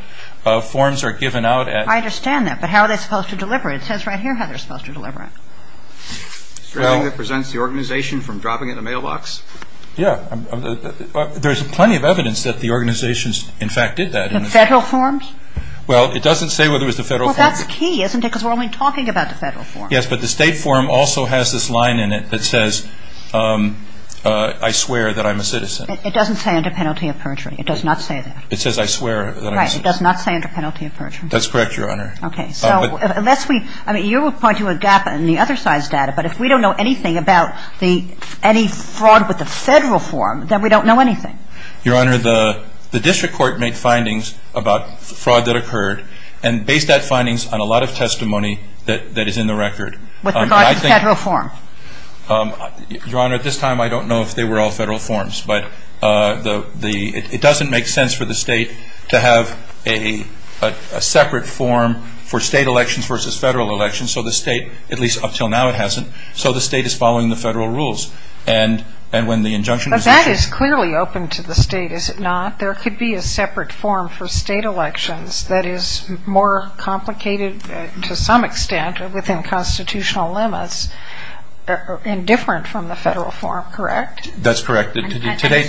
Forms are given out at the state. I understand that. But how are they supposed to deliver it? It says right here how they're supposed to deliver it. Anything that presents the organization from dropping it in a mailbox? Yeah. There's plenty of evidence that the organizations, in fact, did that. The federal forms? Well, it doesn't say whether it was the federal form. Well, that's key, isn't it? Because we're only talking about the federal form. Yes, but the state form also has this line in it that says, I swear that I'm a citizen. It doesn't say under penalty of perjury. It does not say that. It says, I swear that I'm a citizen. Right. It does not say under penalty of perjury. That's correct, Your Honor. Okay. So unless we, I mean, you were pointing to a gap in the other side's data, but if we don't know anything about any fraud with the federal form, then we don't know anything. Your Honor, the district court made findings about fraud that occurred and based that findings on a lot of testimony that is in the record. With regard to the federal form? Your Honor, at this time, I don't know if they were all federal forms. But it doesn't make sense for the state to have a separate form for state elections versus federal elections. So the state, at least up until now, it hasn't. So the state is following the federal rules. But that is clearly open to the state, is it not? There could be a separate form for state elections that is more complicated to some extent within constitutional limits and different from the federal form, correct? That's correct. To date,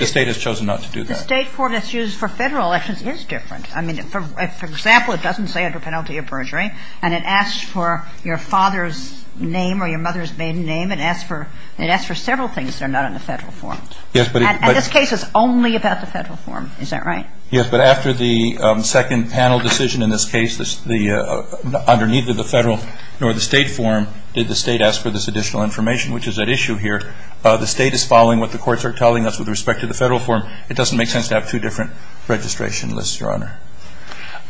the state has chosen not to do that. The state court that's used for federal elections is different. I mean, for example, it doesn't say under penalty of perjury. And it asks for your father's name or your mother's maiden name. It asks for several things that are not in the federal form. And this case is only about the federal form. Is that right? Yes, but after the second panel decision in this case, under neither the federal nor the state form, did the state ask for this additional information, which is at issue here. The state is following what the courts are telling us with respect to the federal form. It doesn't make sense to have two different registration lists, Your Honor.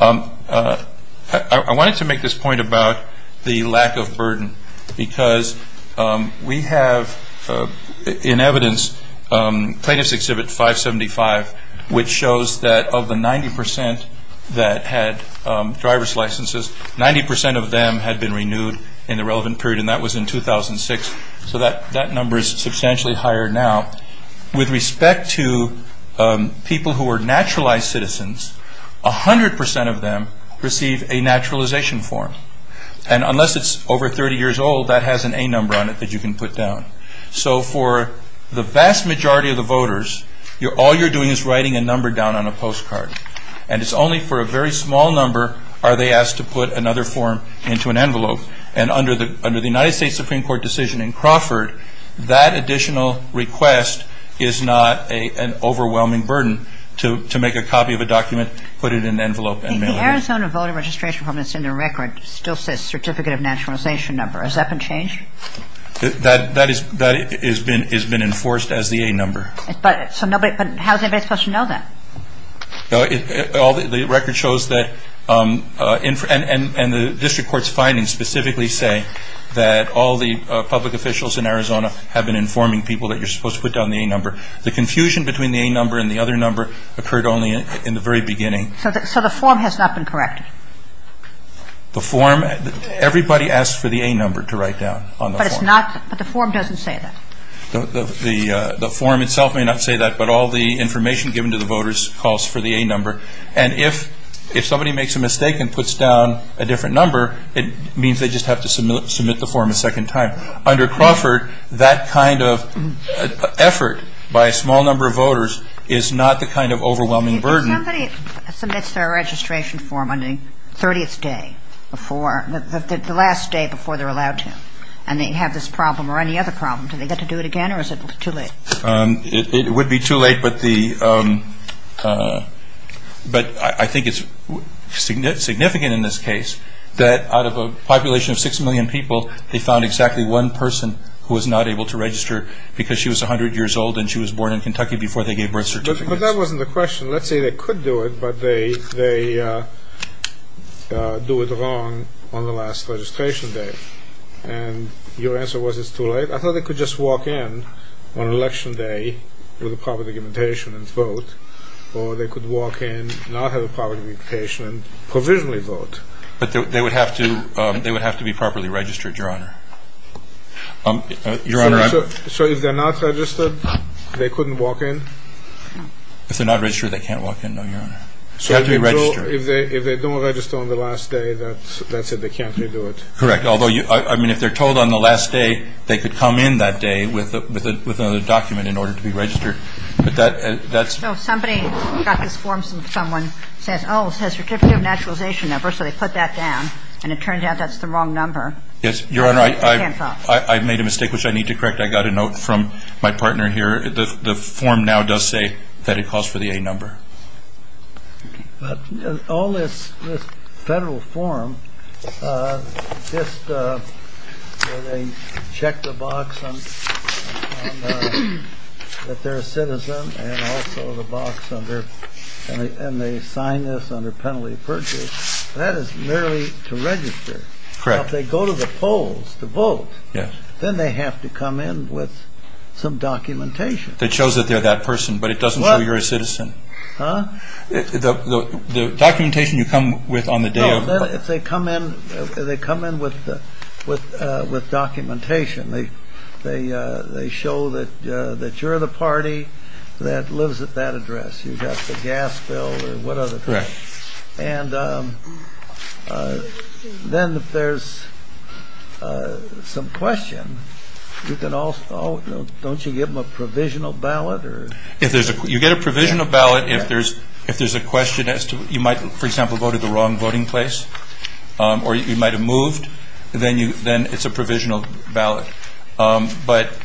I wanted to make this point about the lack of burden because we have in evidence plaintiff's exhibit 575, which shows that of the 90% that had driver's licenses, 90% of them had been renewed in the relevant period. And that was in 2006. So that number is substantially higher now. With respect to people who are naturalized citizens, 100% of them receive a naturalization form. And unless it's over 30 years old, that has an A number on it that you can put down. So for the vast majority of the voters, all you're doing is writing a number down on a postcard. And it's only for a very small number are they asked to put another form into an envelope. And under the United States Supreme Court decision in Crawford, that additional request is not an overwhelming burden to make a copy of a document, put it in an envelope and mail it in. The Arizona voter registration form that's in the record still says certificate of naturalization number. Has that been changed? That has been enforced as the A number. But how is anybody supposed to know that? The record shows that, and the district court's findings specifically say, that all the public officials in Arizona have been informing people that you're supposed to put down the A number. The confusion between the A number and the other number occurred only in the very beginning. So the form has not been corrected? The form, everybody asks for the A number to write down on the form. But the form doesn't say that? The form itself may not say that, but all the information given to the voters calls for the A number. And if somebody makes a mistake and puts down a different number, it means they just have to submit the form a second time. Under Crawford, that kind of effort by a small number of voters is not the kind of overwhelming burden. If somebody submits their registration form on the 30th day before, the last day before they're allowed to, and they have this problem or any other problem, do they get to do it again or is it too late? It would be too late, but I think it's significant in this case that out of a population of 6 million people, they found exactly one person who was not able to register because she was 100 years old and she was born in Kentucky before they gave birth certificates. But that wasn't the question. Let's say they could do it, but they do it wrong on the last registration day. And your answer was it's too late? I thought they could just walk in on election day with a proper documentation and vote, or they could walk in, not have a proper documentation, and provisionally vote. But they would have to be properly registered, Your Honor. So if they're not registered, they couldn't walk in? If they're not registered, they can't walk in, no, Your Honor. They have to be registered. So if they don't register on the last day, that's it, they can't redo it? Correct. Although, I mean, if they're told on the last day, they could come in that day with another document in order to be registered. So if somebody got this form and someone says, oh, it says Certificate of Naturalization Number, so they put that down, and it turns out that's the wrong number. Yes, Your Honor, I made a mistake, which I need to correct. I got a note from my partner here. The form now does say that it calls for the A number. All this federal form just where they check the box that they're a citizen and also the box under, and they sign this under penalty of purchase, that is merely to register. Correct. Now, if they go to the polls to vote, then they have to come in with some documentation. That shows that they're that person, but it doesn't show you're a citizen. Huh? The documentation you come with on the day of... No, they come in with documentation. They show that you're the party that lives at that address. You've got the gas bill or what other thing. Correct. And then if there's some question, don't you give them a provisional ballot? You get a provisional ballot if there's a question as to you might, for example, have voted the wrong voting place or you might have moved, then it's a provisional ballot. But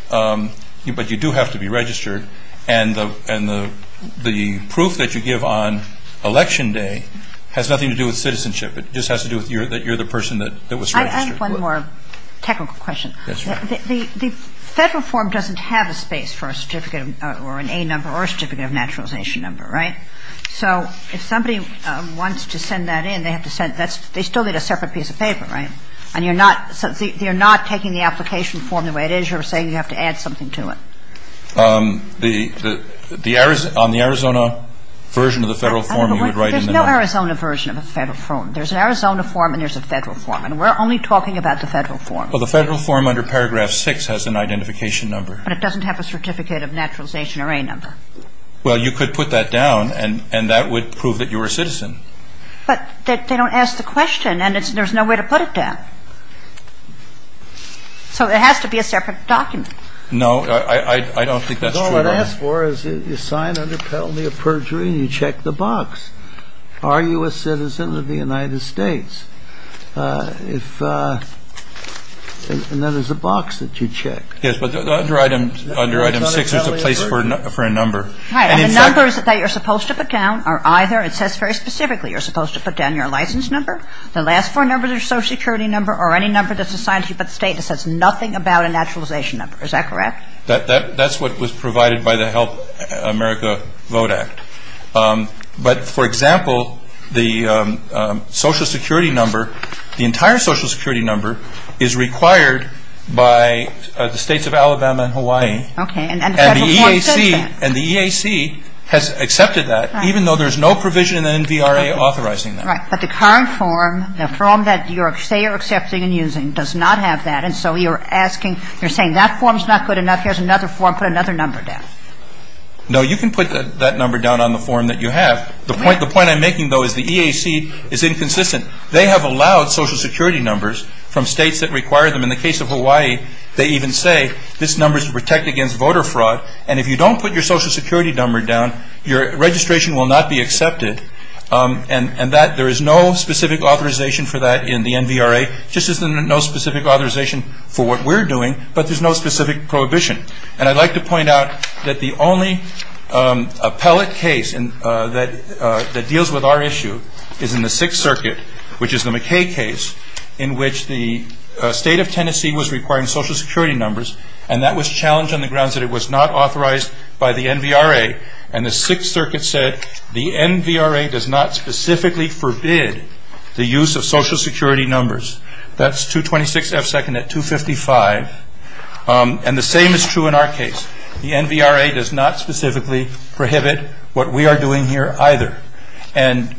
you do have to be registered. And the proof that you give on election day has nothing to do with citizenship. It just has to do with that you're the person that was registered. I have one more technical question. Yes, ma'am. The federal form doesn't have a space for a certificate or an A number or a certificate of naturalization number, right? So if somebody wants to send that in, they still need a separate piece of paper, right? And you're not taking the application form the way it is. You're saying you have to add something to it. On the Arizona version of the federal form, you would write in the note. There's no Arizona version of the federal form. There's an Arizona form and there's a federal form. And we're only talking about the federal form. Well, the federal form under paragraph 6 has an identification number. But it doesn't have a certificate of naturalization or A number. Well, you could put that down and that would prove that you were a citizen. But they don't ask the question and there's no way to put it down. So it has to be a separate document. No, I don't think that's true. Because all it asks for is you sign under penalty of perjury and you check the box. Are you a citizen of the United States? And then there's a box that you check. Yes, but under item 6 there's a place for a number. Right, and the numbers that you're supposed to put down are either, it says very specifically you're supposed to put down your license number, the last four numbers are social security number, or any number that's assigned to you by the state. It says nothing about a naturalization number. Is that correct? That's what was provided by the Help America Vote Act. But, for example, the social security number, the entire social security number is required by the states of Alabama and Hawaii. And the EAC has accepted that, even though there's no provision in the NVRA authorizing that. Right, but the current form, the form that you say you're accepting and using, does not have that. And so you're asking, you're saying that form's not good enough, here's another form, put another number down. No, you can put that number down on the form that you have. The point I'm making, though, is the EAC is inconsistent. They have allowed social security numbers from states that require them. In the case of Hawaii, they even say this number is to protect against voter fraud. And if you don't put your social security number down, your registration will not be accepted. And that, there is no specific authorization for that in the NVRA, just as there's no specific authorization for what we're doing, but there's no specific prohibition. And I'd like to point out that the only appellate case that deals with our issue is in the Sixth Circuit, which is the McKay case, in which the state of Tennessee was requiring social security numbers, and that was challenged on the grounds that it was not authorized by the NVRA. And the Sixth Circuit said, the NVRA does not specifically forbid the use of social security numbers. That's 226 F second at 255. And the same is true in our case. The NVRA does not specifically prohibit what we are doing here either. And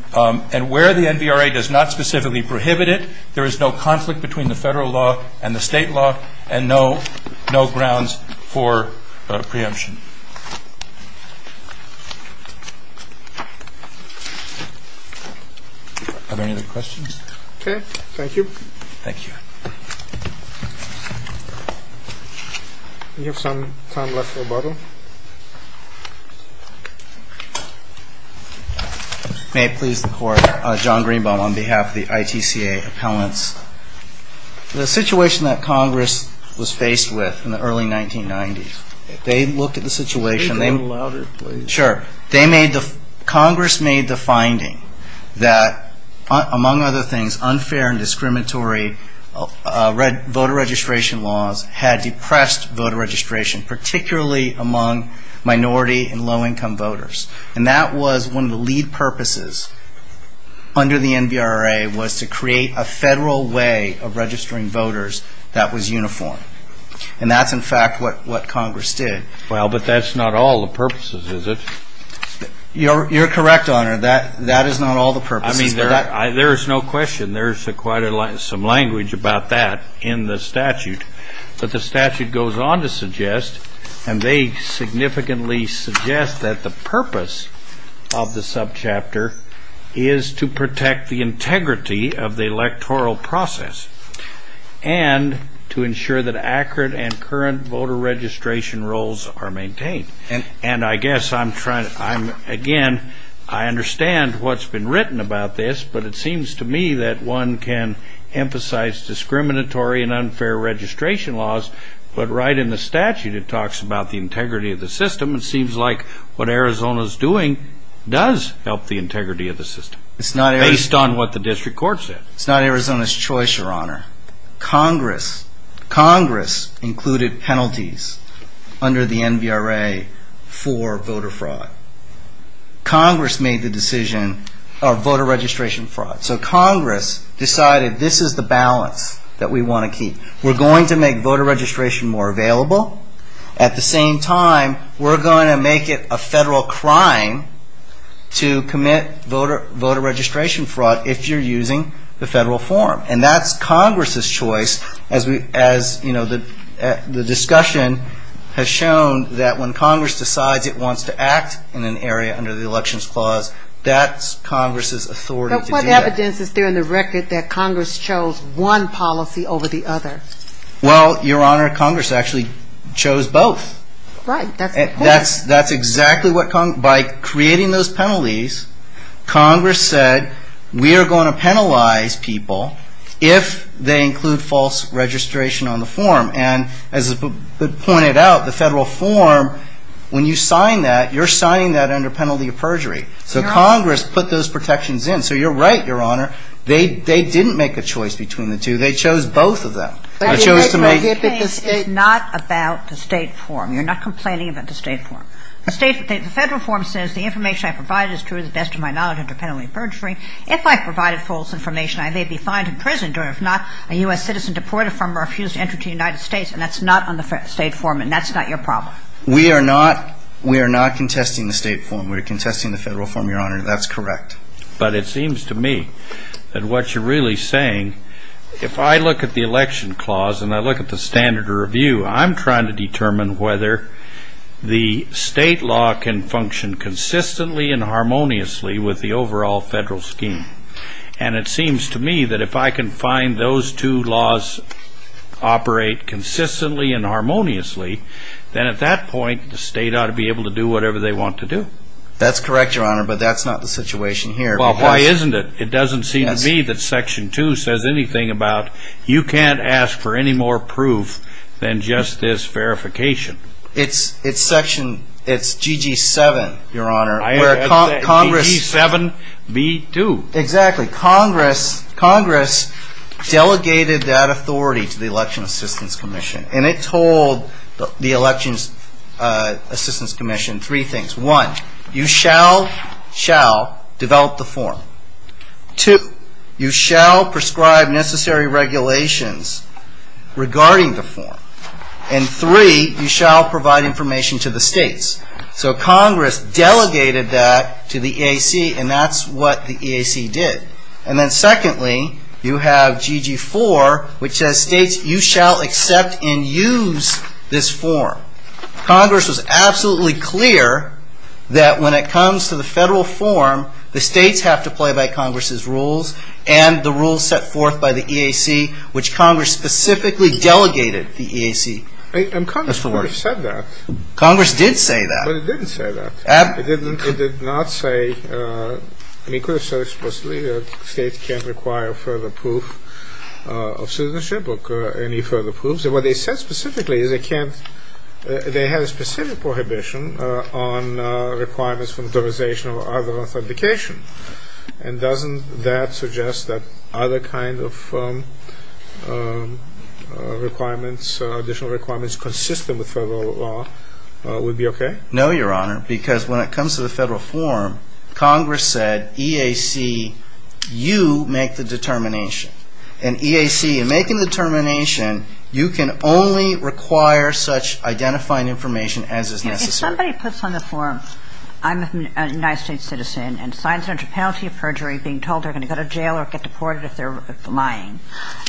where the NVRA does not specifically prohibit it, there is no conflict between the federal law and the state law, and no grounds for preemption. Are there any other questions? Okay. Thank you. Thank you. We have some time left for a bottle. May it please the Court. John Greenbaum on behalf of the ITCA Appellants. The situation that Congress was faced with in the early 1990s, they looked at the situation. Sure. Congress made the finding that, among other things, unfair and discriminatory voter registration laws had depressed voter registration, particularly among minority and low-income voters. And that was one of the lead purposes under the NVRA, was to create a federal way of registering voters that was uniform. And that's, in fact, what Congress did. Well, but that's not all the purposes, is it? You're correct, Honor. That is not all the purposes. I mean, there is no question. There is quite some language about that in the statute. But the statute goes on to suggest, and they significantly suggest that the purpose of the subchapter is to protect the integrity of the electoral process and to ensure that accurate and current voter registration rolls are maintained. And I guess I'm trying to, again, I understand what's been written about this, but it seems to me that one can emphasize discriminatory and unfair registration laws, but right in the statute it talks about the integrity of the system. It seems like what Arizona's doing does help the integrity of the system, based on what the district court said. It's not Arizona's choice, Your Honor. Congress included penalties under the NVRA for voter fraud. Congress made the decision of voter registration fraud. So Congress decided this is the balance that we want to keep. We're going to make voter registration more available. At the same time, we're going to make it a federal crime to commit voter registration fraud if you're using the federal form. And that's Congress's choice, as the discussion has shown, that when Congress decides it wants to act in an area under the Elections Clause, that's Congress's authority to do that. But what evidence is there in the record that Congress chose one policy over the other? Well, Your Honor, Congress actually chose both. Right, that's important. By creating those penalties, Congress said, we are going to penalize people if they include false registration on the form. And as is pointed out, the federal form, when you sign that, you're signing that under penalty of perjury. So Congress put those protections in. So you're right, Your Honor, they didn't make a choice between the two. They chose both of them. The case is not about the state form. You're not complaining about the state form. The federal form says, the information I provided is true to the best of my knowledge under penalty of perjury. If I provided false information, I may be fined and imprisoned, or if not, a U.S. citizen deported from or refused to enter the United States. And that's not on the state form, and that's not your problem. We are not contesting the state form. We're contesting the federal form, Your Honor. That's correct. But it seems to me that what you're really saying, if I look at the election clause and I look at the standard review, I'm trying to determine whether the state law can function consistently and harmoniously with the overall federal scheme. And it seems to me that if I can find those two laws operate consistently and harmoniously, then at that point, the state ought to be able to do whatever they want to do. That's correct, Your Honor, but that's not the situation here. Well, why isn't it? It doesn't seem to me that Section 2 says anything about you can't ask for any more proof than just this verification. It's Section GG7, Your Honor. GG7B2. Exactly. Congress delegated that authority to the Election Assistance Commission, and it told the Election Assistance Commission three things. One, you shall develop the form. Two, you shall prescribe necessary regulations regarding the form. And three, you shall provide information to the states. So Congress delegated that to the EAC, and that's what the EAC did. And then secondly, you have GG4, which states you shall accept and use this form. Congress was absolutely clear that when it comes to the federal form, the states have to play by Congress's rules and the rules set forth by the EAC, which Congress specifically delegated the EAC. And Congress could have said that. Congress did say that. But it didn't say that. It didn't. It did not say. It could have said explicitly that states can't require further proof of citizenship or any further proofs. So what they said specifically is they can't, they have a specific prohibition on requirements for authorization or other authentication. And doesn't that suggest that other kinds of requirements, additional requirements consistent with federal law would be okay? No, Your Honor, because when it comes to the federal form, Congress said, EAC, you make the determination. And EAC, in making the determination, you can only require such identifying information as is necessary. If somebody puts on the form, I'm a United States citizen and signs a penalty of perjury being told they're going to go to jail or get deported if they're lying,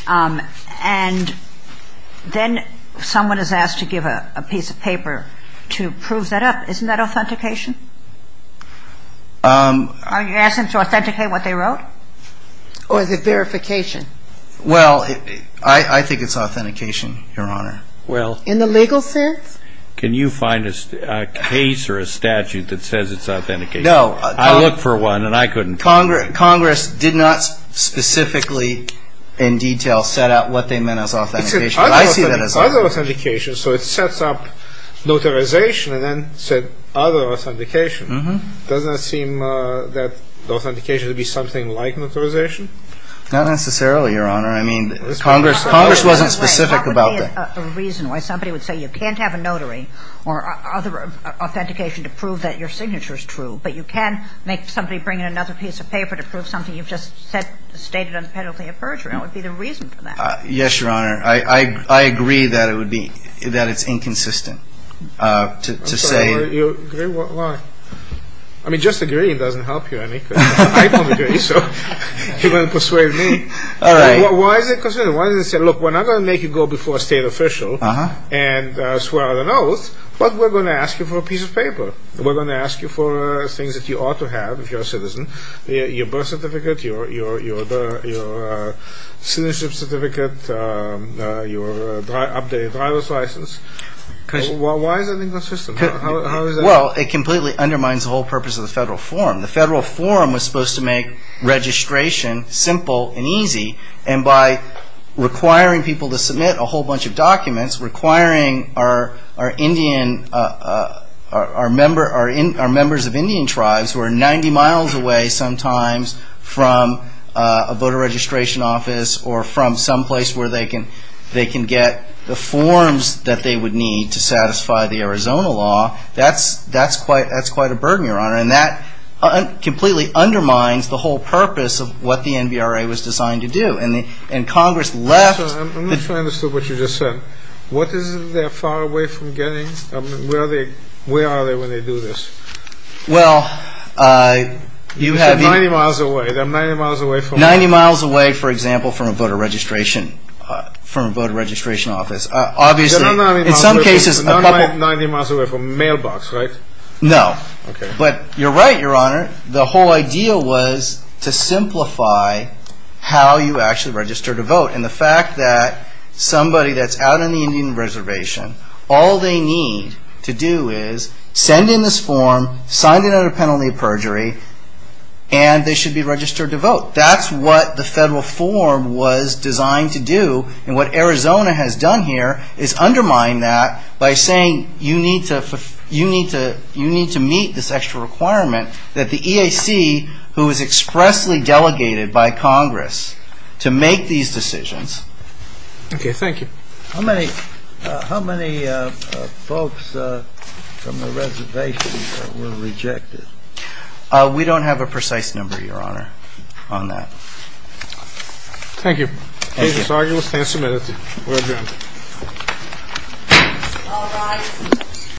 and then someone is asked to give a piece of paper to prove that up, isn't that authentication? Are you asking them to authenticate what they wrote? Or is it verification? Well, I think it's authentication, Your Honor. In the legal sense? Can you find a case or a statute that says it's authentication? No. I looked for one and I couldn't. Congress did not specifically in detail set out what they meant as authentication. I see that as authentication. So it sets up notarization and then said other authentication. Doesn't it seem that authentication would be something like notarization? Not necessarily, Your Honor. I mean, Congress wasn't specific about that. What would be a reason why somebody would say you can't have a notary or other authentication to prove that your signature is true, but you can make somebody bring in another piece of paper to prove something you've just stated on the penalty of perjury. What would be the reason for that? Yes, Your Honor. I agree that it would be, that it's inconsistent to say. You agree? Why? I mean, just agreeing doesn't help you any. I don't agree, so you're going to persuade me. All right. Why is it inconsistent? Why does it say, look, we're not going to make you go before a state official and swear an oath, but we're going to ask you for a piece of paper. We're going to ask you for things that you ought to have if you're a citizen, your birth certificate, your citizenship certificate, your updated driver's license. Why is it inconsistent? How is that? Well, it completely undermines the whole purpose of the Federal Forum. The Federal Forum was supposed to make registration simple and easy, and by requiring people to submit a whole bunch of documents, requiring our Indian, our members of Indian tribes, who are 90 miles away sometimes from a voter registration office or from someplace where they can get the forms that they would need to satisfy the Arizona law, that's quite a burden, Your Honor, and that completely undermines the whole purpose of what the NBRA was designed to do. And Congress left. I'm not sure I understood what you just said. What is it they're far away from getting? I mean, where are they when they do this? Well, you have... You said 90 miles away. They're 90 miles away from what? 90 miles away, for example, from a voter registration office. Obviously, in some cases... They're not 90 miles away from a mailbox, right? No. Okay. But you're right, Your Honor. The whole idea was to simplify how you actually register to vote, and the fact that somebody that's out on the Indian Reservation, all they need to do is send in this form, sign it under penalty of perjury, and they should be registered to vote. That's what the federal form was designed to do, and what Arizona has done here is undermine that by saying you need to meet this extra requirement that the EAC, who is expressly delegated by Congress to make these decisions... Okay. Thank you. How many folks from the reservation were rejected? We don't have a precise number, Your Honor, on that. Thank you. This argument stands submitted. We're adjourned. All rise.